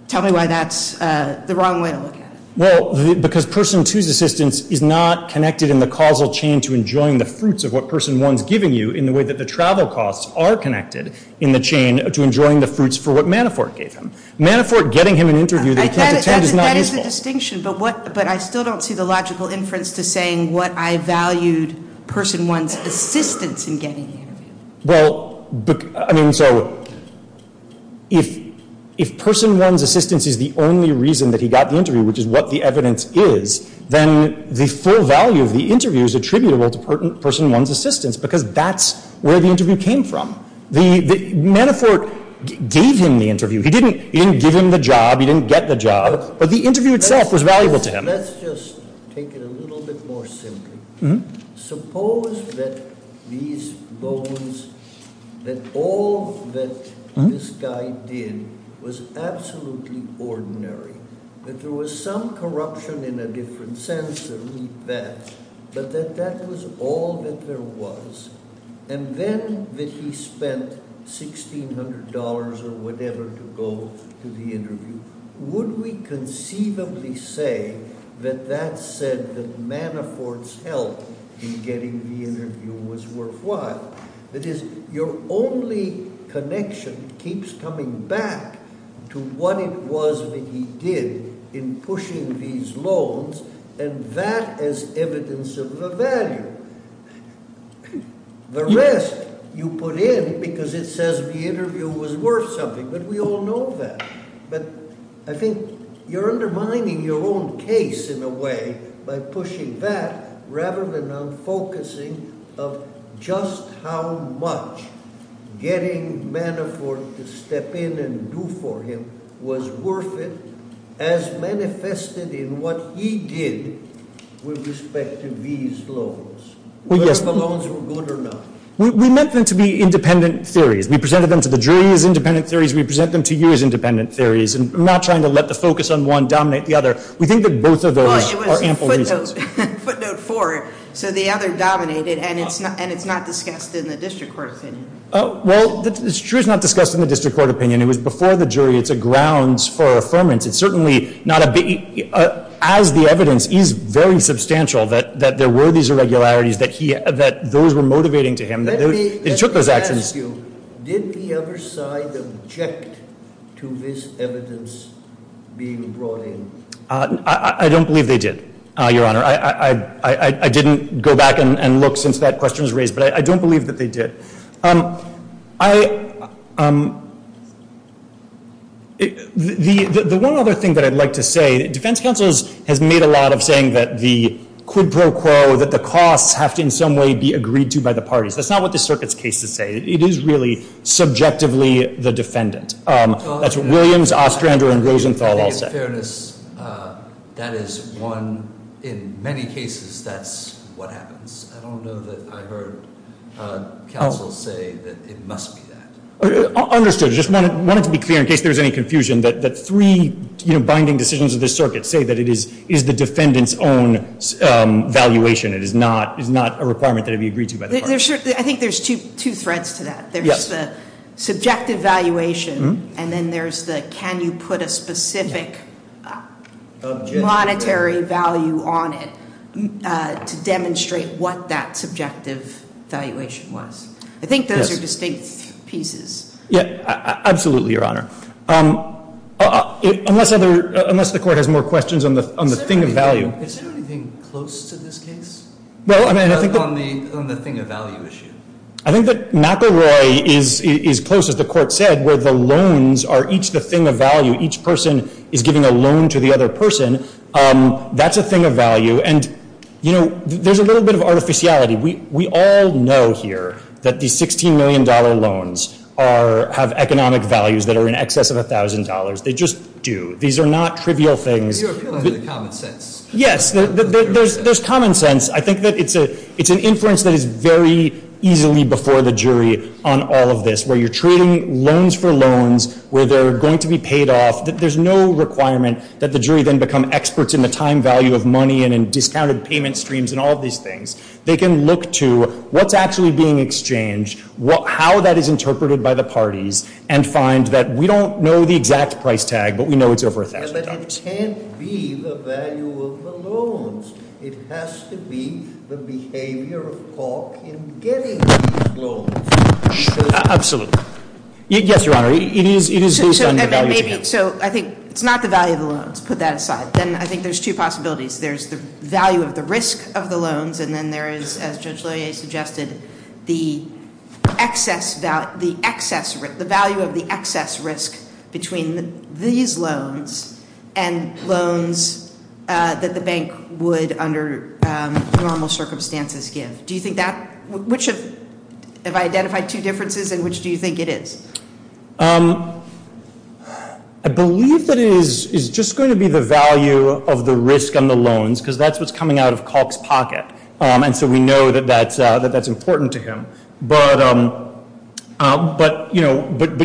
Tell me why that's the wrong way to look at it. Well, because person two's assistance is not connected in the causal chain to enjoying the fruits of what person one's giving you in the way that the travel costs are connected in the chain to enjoying the fruits for what Manafort gave him. Manafort getting him an interview that he can't attend is not useful. That's a distinction, but I still don't see the logical inference to saying what I valued person one's assistance in getting the interview. Well, I mean, so if person one's assistance is the only reason that he got the interview, which is what the evidence is, then the full value of the interview is attributable to person one's assistance because that's where the interview came from. Manafort gave him the interview. He didn't give him the job. He didn't get the job. But the interview itself was valuable to him. Let's just take it a little bit more simply. Suppose that these bones, that all that this guy did was absolutely ordinary, that there was some corruption in a different sense, but that that was all that there was, and then that he spent $1,600 or whatever to go to the interview. Would we conceivably say that that said that Manafort's help in getting the interview was worthwhile? That is, your only connection keeps coming back to what it was that he did in pushing these loans, and that is evidence of the value. The rest you put in because it says the interview was worth something, but we all know that. But I think you're undermining your own case in a way by pushing that rather than on focusing of just how much getting Manafort to step in and do for him was worth it as manifested in what he did with respect to these loans, whether the loans were good or not. We meant them to be independent theories. We presented them to the jury as independent theories. We present them to you as independent theories. I'm not trying to let the focus on one dominate the other. We think that both of those are ample reasons. Well, it was footnote four, so the other dominated, and it's not discussed in the district court opinion. Well, it's true it's not discussed in the district court opinion. It was before the jury. It's a grounds for affirmance. It's certainly not a big – as the evidence is very substantial that there were these irregularities that those were motivating to him. Let me ask you, did the other side object to this evidence being brought in? I don't believe they did, Your Honor. I didn't go back and look since that question was raised, but I don't believe that they did. The one other thing that I'd like to say, defense counsel has made a lot of saying that the quid pro quo, that the costs have to in some way be agreed to by the parties. That's not what the circuit's cases say. It is really subjectively the defendant. That's what Williams, Ostrander, and Rosenthal all say. In fairness, that is one – in many cases, that's what happens. I don't know that I heard counsel say that it must be that. Understood. I just wanted to be clear in case there was any confusion that three binding decisions of this circuit say that it is the defendant's own valuation. It is not a requirement that it be agreed to by the parties. I think there's two threads to that. There's the subjective valuation and then there's the can you put a specific monetary value on it to demonstrate what that subjective valuation was. I think those are distinct pieces. Absolutely, Your Honor. Unless the court has more questions on the thing of value. Is there anything close to this case? On the thing of value issue. I think that McElroy is close, as the court said, where the loans are each the thing of value. Each person is giving a loan to the other person. That's a thing of value. There's a little bit of artificiality. We all know here that these $16 million loans have economic values that are in excess of $1,000. They just do. These are not trivial things. You're appealing to the common sense. Yes. There's common sense. I think that it's an inference that is very easily before the jury on all of this, where you're trading loans for loans, where they're going to be paid off. There's no requirement that the jury then become experts in the time value of money and in discounted payment streams and all of these things. They can look to what's actually being exchanged, how that is interpreted by the parties, and find that we don't know the exact price tag, but we know it's over $1,000. But it can't be the value of the loans. It has to be the behavior of Cork in getting these loans. Absolutely. Yes, Your Honor. It is based on the value of the loans. So I think it's not the value of the loans. Put that aside. Then I think there's two possibilities. There's the value of the risk of the loans, and then there is, as Judge Lillie suggested, the value of the excess risk between these loans and loans that the bank would, under normal circumstances, give. Do you think that – have I identified two differences, and which do you think it is? I believe that it is just going to be the value of the risk on the loans, because that's what's coming out of Cork's pocket. And so we know that that's important to him. But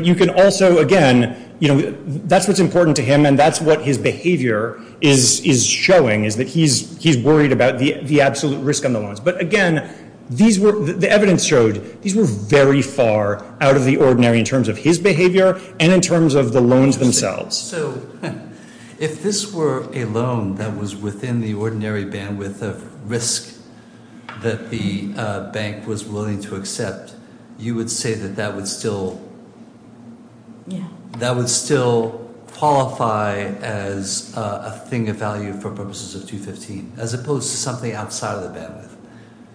you can also, again – that's what's important to him, and that's what his behavior is showing, is that he's worried about the absolute risk on the loans. But again, the evidence showed these were very far out of the ordinary in terms of his behavior and in terms of the loans themselves. So if this were a loan that was within the ordinary bandwidth of risk that the bank was willing to accept, you would say that that would still qualify as a thing of value for purposes of 215, as opposed to something outside of the bandwidth?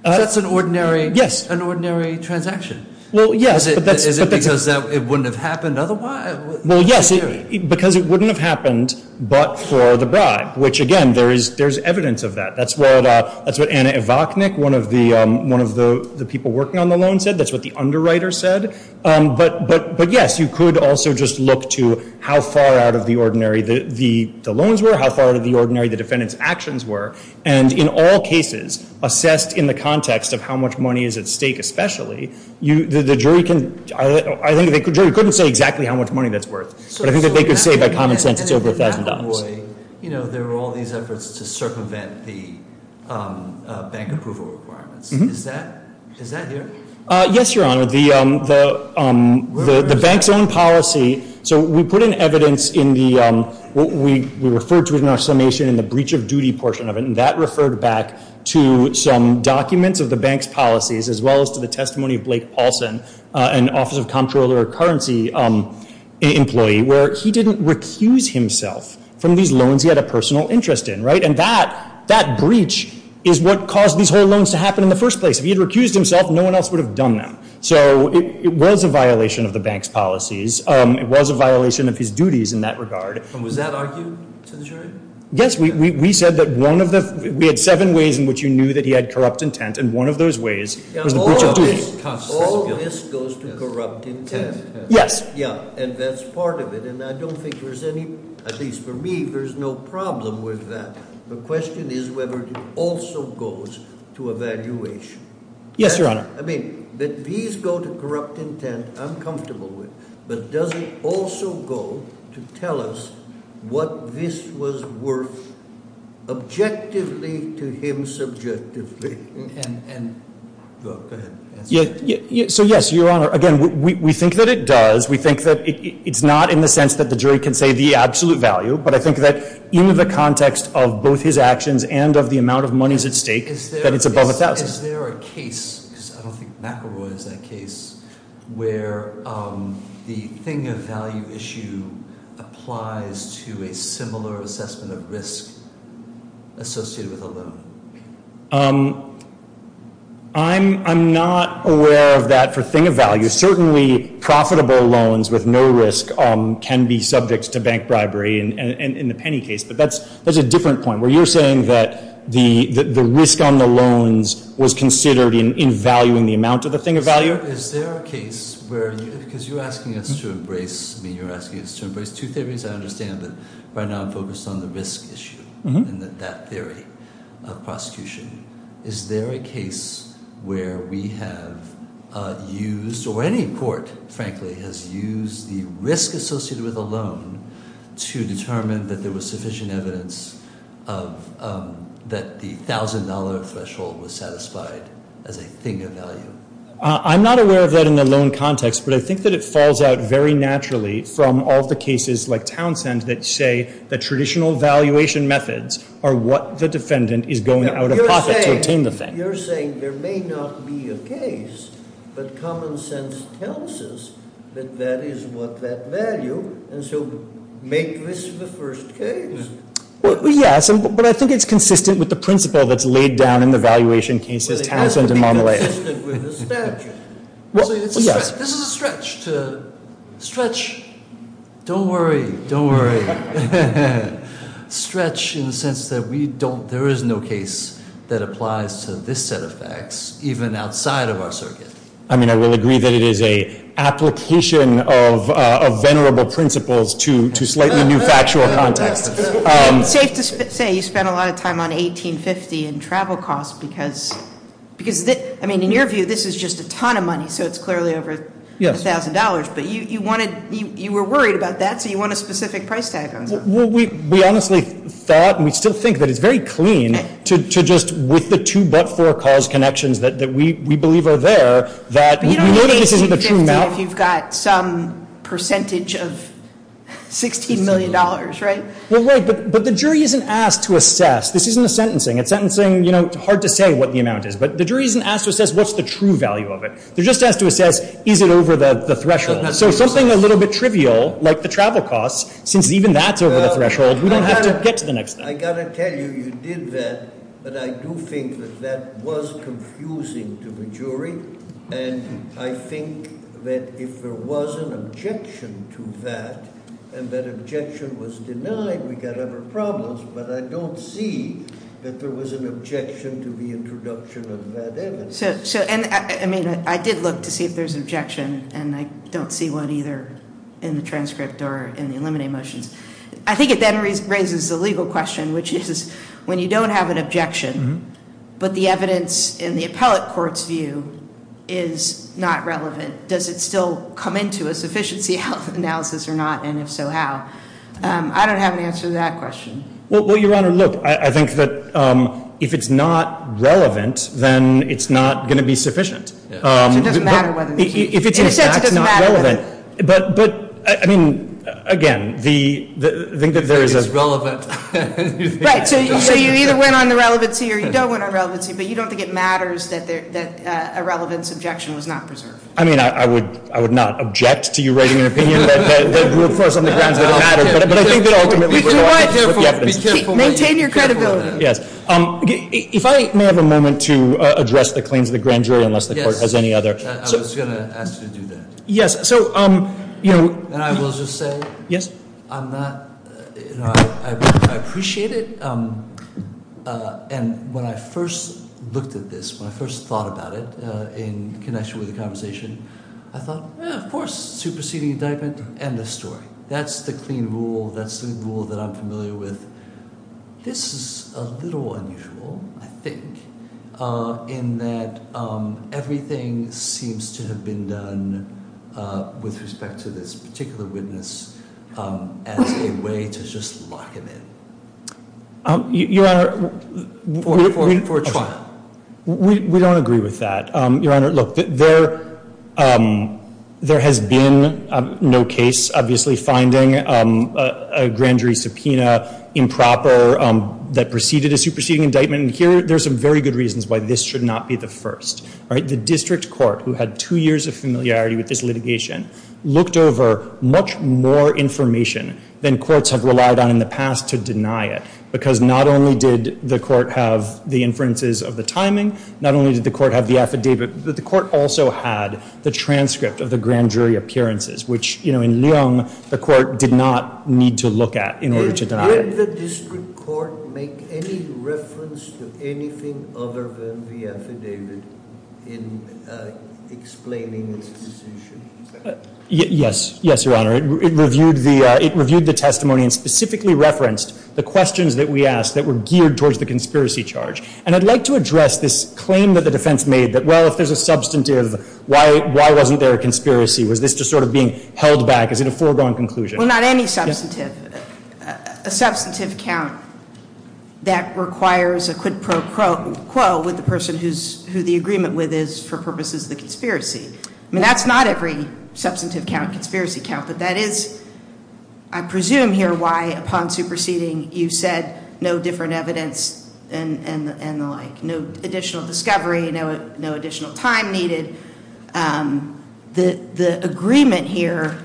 That's an ordinary transaction. Well, yes. Is it because it wouldn't have happened otherwise? Well, yes, because it wouldn't have happened but for the bribe, which again, there's evidence of that. That's what Anna Evachnik, one of the people working on the loan, said. That's what the underwriter said. But yes, you could also just look to how far out of the ordinary the loans were, how far out of the ordinary the defendant's actions were. And in all cases, assessed in the context of how much money is at stake especially, the jury couldn't say exactly how much money that's worth. But I think that they could say by common sense it's over $1,000. And in that way, there were all these efforts to circumvent the bank approval requirements. Is that here? Yes, Your Honor. The bank's own policy. So we put in evidence in the – we referred to it in our summation in the breach of duty portion of it, and that referred back to some documents of the bank's policies as well as to the testimony of Blake Paulson, an Office of Comptroller of Currency employee, where he didn't recuse himself from these loans he had a personal interest in. And that breach is what caused these whole loans to happen in the first place. If he had recused himself, no one else would have done them. So it was a violation of the bank's policies. It was a violation of his duties in that regard. And was that argued to the jury? Yes, we said that one of the – we had seven ways in which you knew that he had corrupt intent, and one of those ways was the breach of duty. All this goes to corrupt intent? Yes. Yeah, and that's part of it. And I don't think there's any – at least for me, there's no problem with that. The question is whether it also goes to evaluation. Yes, Your Honor. I mean, that these go to corrupt intent, I'm comfortable with, but does it also go to tell us what this was worth objectively to him subjectively? And – go ahead. So, yes, Your Honor, again, we think that it does. We think that it's not in the sense that the jury can say the absolute value, but I think that in the context of both his actions and of the amount of monies at stake, that it's above a thousand. Is there a case – because I don't think McElroy has a case – where the thing of value issue applies to a similar assessment of risk associated with a loan? I'm not aware of that for thing of value. Certainly profitable loans with no risk can be subject to bank bribery in the penny case, but that's a different point, where you're saying that the risk on the loans was considered in valuing the amount of the thing of value? Is there a case where – because you're asking us to embrace – I mean, you're asking us to embrace two theories. I understand that right now I'm focused on the risk issue and that theory of prosecution. Is there a case where we have used – or any court, frankly, has used the risk associated with a loan to determine that there was sufficient evidence that the $1,000 threshold was satisfied as a thing of value? I'm not aware of that in the loan context, but I think that it falls out very naturally from all the cases like Townsend that say that traditional valuation methods are what the defendant is going out of pocket to obtain the thing. You're saying there may not be a case, but common sense tells us that that is what that value – and so make this the first case. Well, yes, but I think it's consistent with the principle that's laid down in the valuation cases, Townsend and Monteleo. Well, it has to be consistent with the statute. Well, yes. This is a stretch to – stretch – don't worry, don't worry – stretch in the sense that we don't – there is no case that applies to this set of facts, even outside of our circuit. I mean, I will agree that it is an application of venerable principles to slightly new factual context. It's safe to say you spent a lot of time on 1850 and travel costs because – I mean, in your view, this is just a ton of money, so it's clearly over $1,000. But you wanted – you were worried about that, so you want a specific price tag on something. Well, we honestly thought, and we still think, that it's very clean to just – with the two but-for cause connections that we believe are there, that – But you don't need 1850 if you've got some percentage of $16 million, right? Well, right, but the jury isn't asked to assess. This isn't a sentencing. It's sentencing – you know, it's hard to say what the amount is, but the jury isn't asked to assess what's the true value of it. They're just asked to assess, is it over the threshold? So something a little bit trivial, like the travel costs, since even that's over the threshold, we don't have to get to the next thing. I've got to tell you, you did that, but I do think that that was confusing to the jury, and I think that if there was an objection to that, and that objection was denied, we've got other problems, but I don't see that there was an objection to the introduction of that evidence. I mean, I did look to see if there's an objection, and I don't see one either in the transcript or in the eliminating motions. I think it then raises the legal question, which is when you don't have an objection, but the evidence in the appellate court's view is not relevant, does it still come into a sufficiency analysis or not, and if so, how? I don't have an answer to that question. Well, Your Honor, look, I think that if it's not relevant, then it's not going to be sufficient. So it doesn't matter whether it's relevant. In a sense, it doesn't matter whether it's relevant. But, I mean, again, the thing that there is a ‑‑ If it is relevant. Right. So you either win on the relevancy or you don't win on relevancy, but you don't think it matters that a relevance objection was not preserved. I mean, I would not object to you writing an opinion. But I think that ultimately we're going to have to deal with the evidence. Be careful. Maintain your credibility. Yes. If I may have a moment to address the claims of the grand jury, unless the court has any other. Yes. I was going to ask you to do that. Yes. And I will just say, I appreciate it, and when I first looked at this, when I first thought about it in connection with the conversation, I thought, of course, superseding indictment, end of story. That's the clean rule. That's the rule that I'm familiar with. This is a little unusual, I think, in that everything seems to have been done with respect to this particular witness as a way to just lock him in. Your Honor. For trial. We don't agree with that. Your Honor, look, there has been no case, obviously, finding a grand jury subpoena improper that preceded a superseding indictment. And here, there's some very good reasons why this should not be the first. All right. The district court, who had two years of familiarity with this litigation, looked over much more information than courts have relied on in the past to deny it, because not only did the court have the inferences of the timing, not only did the court have the affidavit, but the court also had the transcript of the grand jury appearances, which, you know, in Lyon, the court did not need to look at in order to deny it. Did the district court make any reference to anything other than the affidavit in explaining its position? Yes. Yes, Your Honor. It reviewed the testimony and specifically referenced the questions that we asked that were geared towards the conspiracy charge. And I'd like to address this claim that the defense made that, well, if there's a substantive, why wasn't there a conspiracy? Was this just sort of being held back? Is it a foregone conclusion? Well, not any substantive. A substantive count that requires a quid pro quo with the person who the agreement with is for purposes of the conspiracy. I mean, that's not every substantive count, conspiracy count, but that is, I presume here, why upon superseding you said no different evidence and the like, no additional discovery, no additional time needed. The agreement here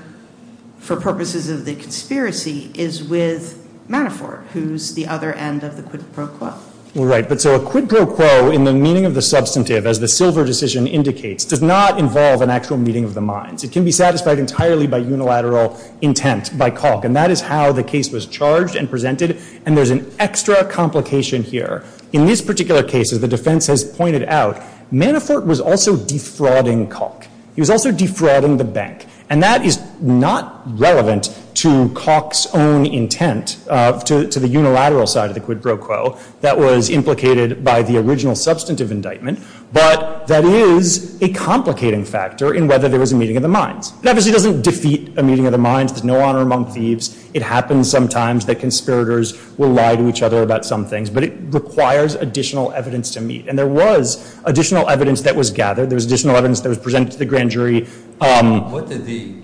for purposes of the conspiracy is with Manafort, who's the other end of the quid pro quo. Right. But so a quid pro quo in the meaning of the substantive, as the silver decision indicates, does not involve an actual meeting of the minds. It can be satisfied entirely by unilateral intent by Calk. And that is how the case was charged and presented. And there's an extra complication here. In this particular case, as the defense has pointed out, Manafort was also defrauding Calk. He was also defrauding the bank. And that is not relevant to Calk's own intent to the unilateral side of the quid pro quo that was implicated by the original substantive indictment. But that is a complicating factor in whether there was a meeting of the minds. It obviously doesn't defeat a meeting of the minds. There's no honor among thieves. It happens sometimes that conspirators will lie to each other about some things. But it requires additional evidence to meet. And there was additional evidence that was gathered. There was additional evidence that was presented to the grand jury. What did the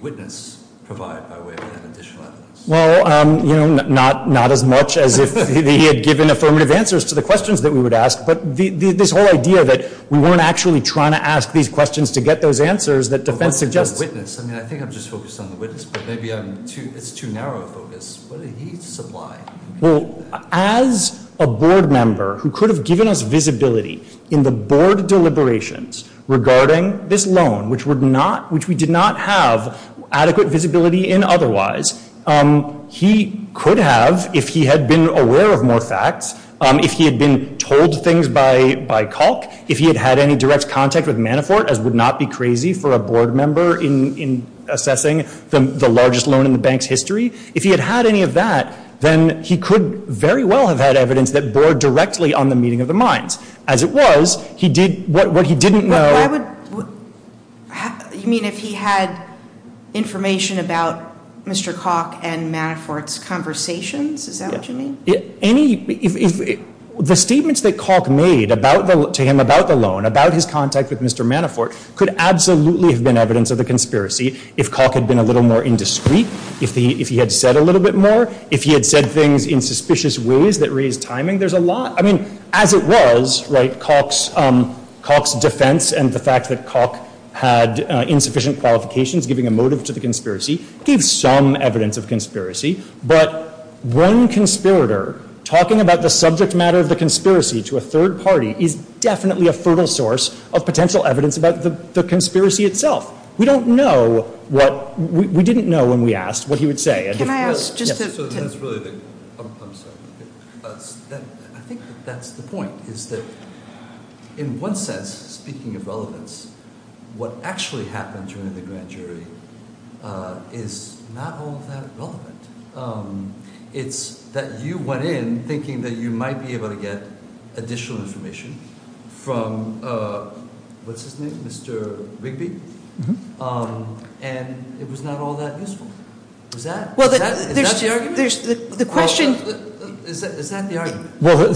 witness provide by way of that additional evidence? Well, not as much as if he had given affirmative answers to the questions that we would ask. But this whole idea that we weren't actually trying to ask these questions to get those answers that defense suggests. I mean, I think I'm just focused on the witness. But maybe it's too narrow a focus. What did he supply? Well, as a board member who could have given us visibility in the board deliberations regarding this loan, which we did not have adequate visibility in otherwise, he could have, if he had been aware of more facts, if he had been told things by Kalk, if he had had any direct contact with Manafort, as would not be crazy for a board member in assessing the largest loan in the bank's history. If he had had any of that, then he could very well have had evidence that bore directly on the meeting of the minds. As it was, what he didn't know. You mean if he had information about Mr. Kalk and Manafort's conversations? Is that what you mean? The statements that Kalk made to him about the loan, about his contact with Mr. Manafort, could absolutely have been evidence of the conspiracy if Kalk had been a little more indiscreet, if he had said a little bit more, if he had said things in suspicious ways that raised timing. There's a lot. I mean, as it was, Kalk's defense and the fact that Kalk had insufficient qualifications giving a motive to the conspiracy, gives some evidence of conspiracy. But one conspirator talking about the subject matter of the conspiracy to a third party is definitely a fertile source of potential evidence about the conspiracy itself. We don't know what, we didn't know when we asked what he would say. Can I ask, just to, So that's really the, I'm sorry. I think that's the point, is that in one sense, speaking of relevance, what actually happened during the grand jury is not all that relevant. It's that you went in thinking that you might be able to get additional information from, what's his name, Mr. Rigby? And it was not all that useful. Is that the argument? The question, is that the argument? Well,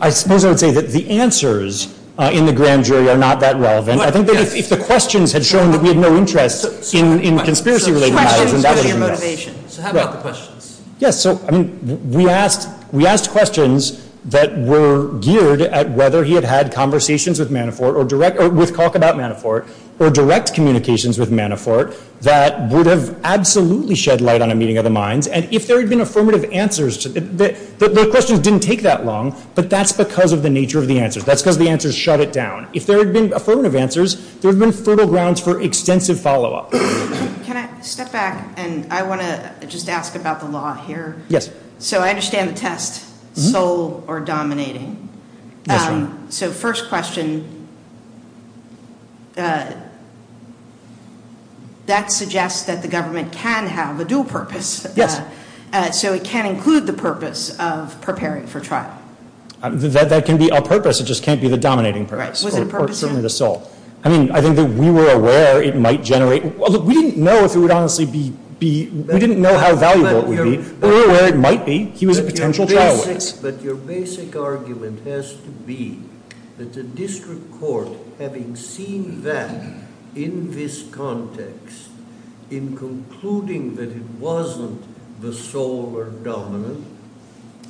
I suppose I would say that the answers in the grand jury are not that relevant. I think that if the questions had shown that we had no interest in conspiracy-related matters, So questions, what's your motivation? So how about the questions? Yes, so, I mean, we asked questions that were geared at whether he had had conversations with Manafort, or with Kalk about Manafort, or direct communications with Manafort, that would have absolutely shed light on a meeting of the minds. And if there had been affirmative answers, the questions didn't take that long, but that's because of the nature of the answers. That's because the answers shut it down. If there had been affirmative answers, there would have been fertile grounds for extensive follow-up. Can I step back, and I want to just ask about the law here? Yes. So I understand the test, sole or dominating. Yes, ma'am. So first question, that suggests that the government can have a dual purpose. Yes. So it can include the purpose of preparing for trial. That can be a purpose. It just can't be the dominating purpose. Right. Or certainly the sole. I mean, I think that we were aware it might generate. We didn't know if it would honestly be, we didn't know how valuable it would be. We were aware it might be. He was a potential trial witness. But your basic argument has to be that the district court, having seen that in this context, in concluding that it wasn't the sole or dominant,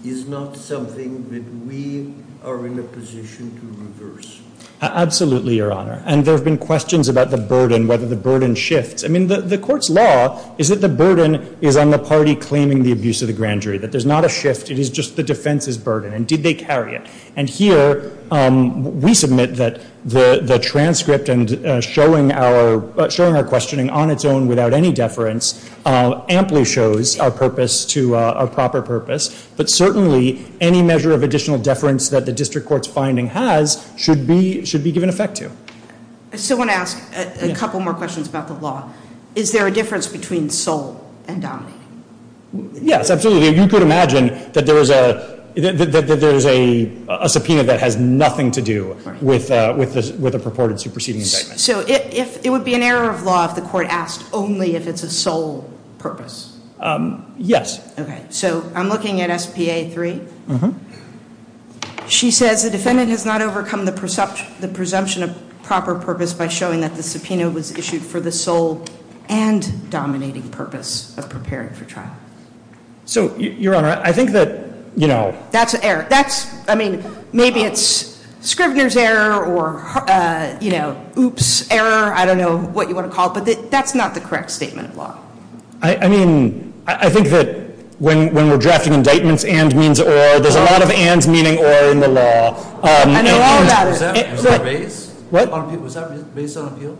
is not something that we are in a position to reverse. Absolutely, Your Honor. And there have been questions about the burden, whether the burden shifts. I mean, the court's law is that the burden is on the party claiming the abuse of the grand jury, that there's not a shift. It is just the defense's burden. And did they carry it? And here, we submit that the transcript and showing our questioning on its own without any deference, amply shows our purpose to a proper purpose. But certainly, any measure of additional deference that the district court's finding has should be given effect to. I still want to ask a couple more questions about the law. Is there a difference between sole and dominating? Yes, absolutely. You could imagine that there is a subpoena that has nothing to do with a purported superseding indictment. So it would be an error of law if the court asked only if it's a sole purpose? Yes. Okay. So I'm looking at S.P.A. 3. She says the defendant has not overcome the presumption of proper purpose by showing that the subpoena was issued for the sole and dominating purpose of preparing for trial. So, Your Honor, I think that, you know. That's an error. That's, I mean, maybe it's Scrivener's error or, you know, oops error. I don't know what you want to call it. But that's not the correct statement of law. I mean, I think that when we're drafting indictments, and means or. There's a lot of ands meaning or in the law. I know all about it. Was that raised? What? Was that raised on appeal?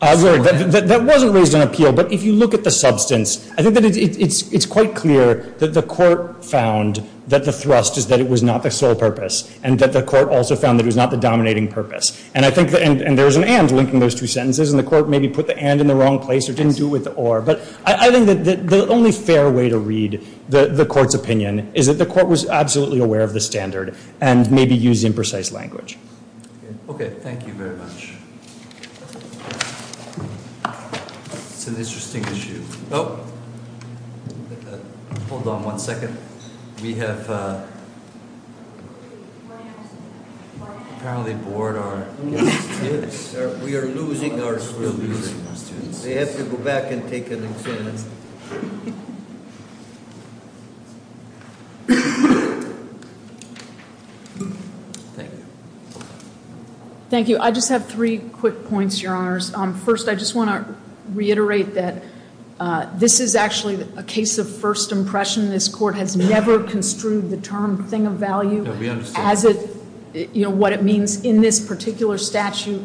That wasn't raised on appeal. But if you look at the substance, I think that it's quite clear that the court found that the thrust is that it was not the sole purpose. And that the court also found that it was not the dominating purpose. And I think, and there's an and linking those two sentences. And the court maybe put the and in the wrong place or didn't do it with the or. But I think that the only fair way to read the court's opinion is that the court was absolutely aware of the standard and maybe used imprecise language. Okay. Thank you very much. It's an interesting issue. Oh, hold on one second. We have apparently bored our students. We are losing our students. They have to go back and take an exam. Thank you. Thank you. I just have three quick points, your honors. First, I just want to reiterate that this is actually a case of first impression. This court has never construed the term thing of value as what it means in this particular statute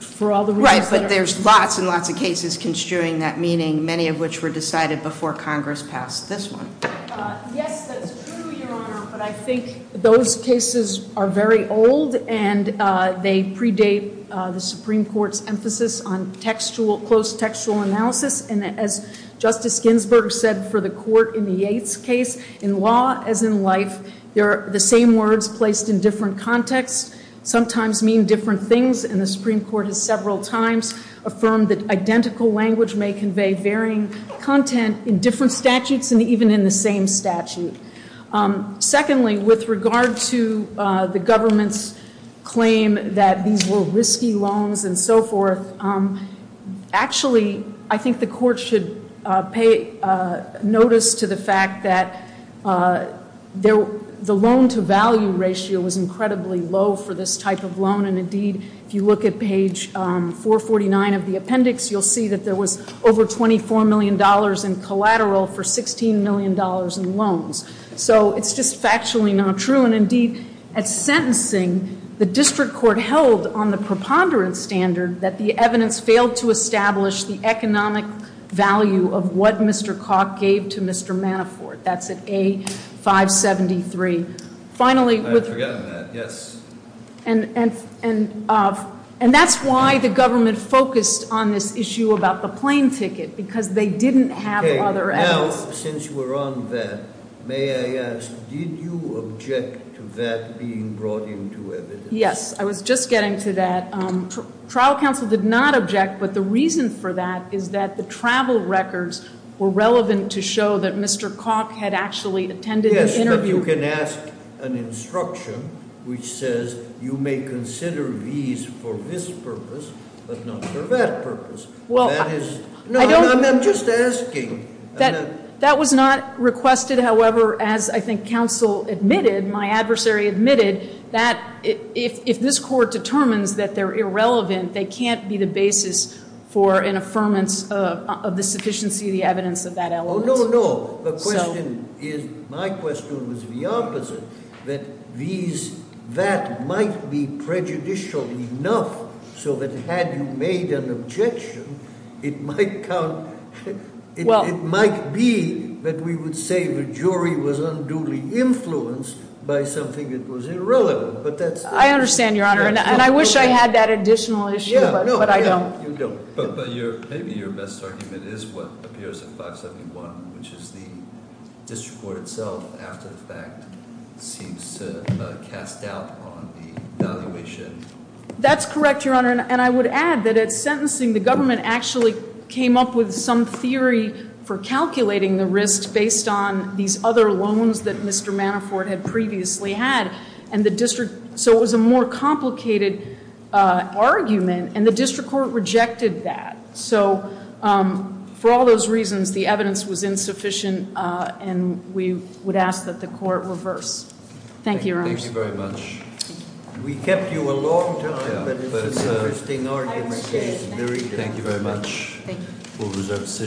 for all the reasons that are. Right, but there's lots and lots of cases construing that meaning, many of which were decided before Congress passed this one. Yes, that's true, your honor. But I think those cases are very old, and they predate the Supreme Court's emphasis on textual, close textual analysis. And as Justice Ginsburg said for the court in the Yates case, in law as in life, the same words placed in different contexts sometimes mean different things. And the Supreme Court has several times affirmed that identical language may convey varying content in different statutes and even in the same statute. Secondly, with regard to the government's claim that these were risky loans and so forth, actually, I think the court should pay notice to the fact that the loan to value ratio was incredibly low for this type of loan. And indeed, if you look at page 449 of the appendix, you'll see that there was over $24 million in collateral for $16 million in loans. So it's just factually not true. And indeed, at sentencing, the district court held on the preponderance standard that the evidence failed to establish the economic value of what Mr. Koch gave to Mr. Manafort. That's at A573. I had forgotten that, yes. And that's why the government focused on this issue about the plane ticket, because they didn't have other evidence. Now, since we're on that, may I ask, did you object to that being brought into evidence? Yes, I was just getting to that. Trial counsel did not object, but the reason for that is that the travel records were relevant to show that Mr. Koch had actually attended the interview. But you can ask an instruction which says you may consider these for this purpose, but not for that purpose. Well, I don't. I'm just asking. That was not requested. However, as I think counsel admitted, my adversary admitted, that if this court determines that they're irrelevant, they can't be the basis for an affirmance of the sufficiency of the evidence of that element. No, no, no. The question is, my question was the opposite, that that might be prejudicial enough so that had you made an objection, it might be that we would say the jury was unduly influenced by something that was irrelevant. But that's- I understand, Your Honor, and I wish I had that additional issue, but I don't. But maybe your best argument is what appears in 571, which is the district court itself, after the fact, seems to cast doubt on the evaluation. That's correct, Your Honor, and I would add that at sentencing, the government actually came up with some theory for calculating the risk based on these other loans that Mr. Manafort had previously had. So it was a more complicated argument, and the district court rejected that. So for all those reasons, the evidence was insufficient, and we would ask that the court reverse. Thank you, Your Honor. Thank you very much. We kept you a long time, but it's an interesting argument. Thank you very much. Thank you.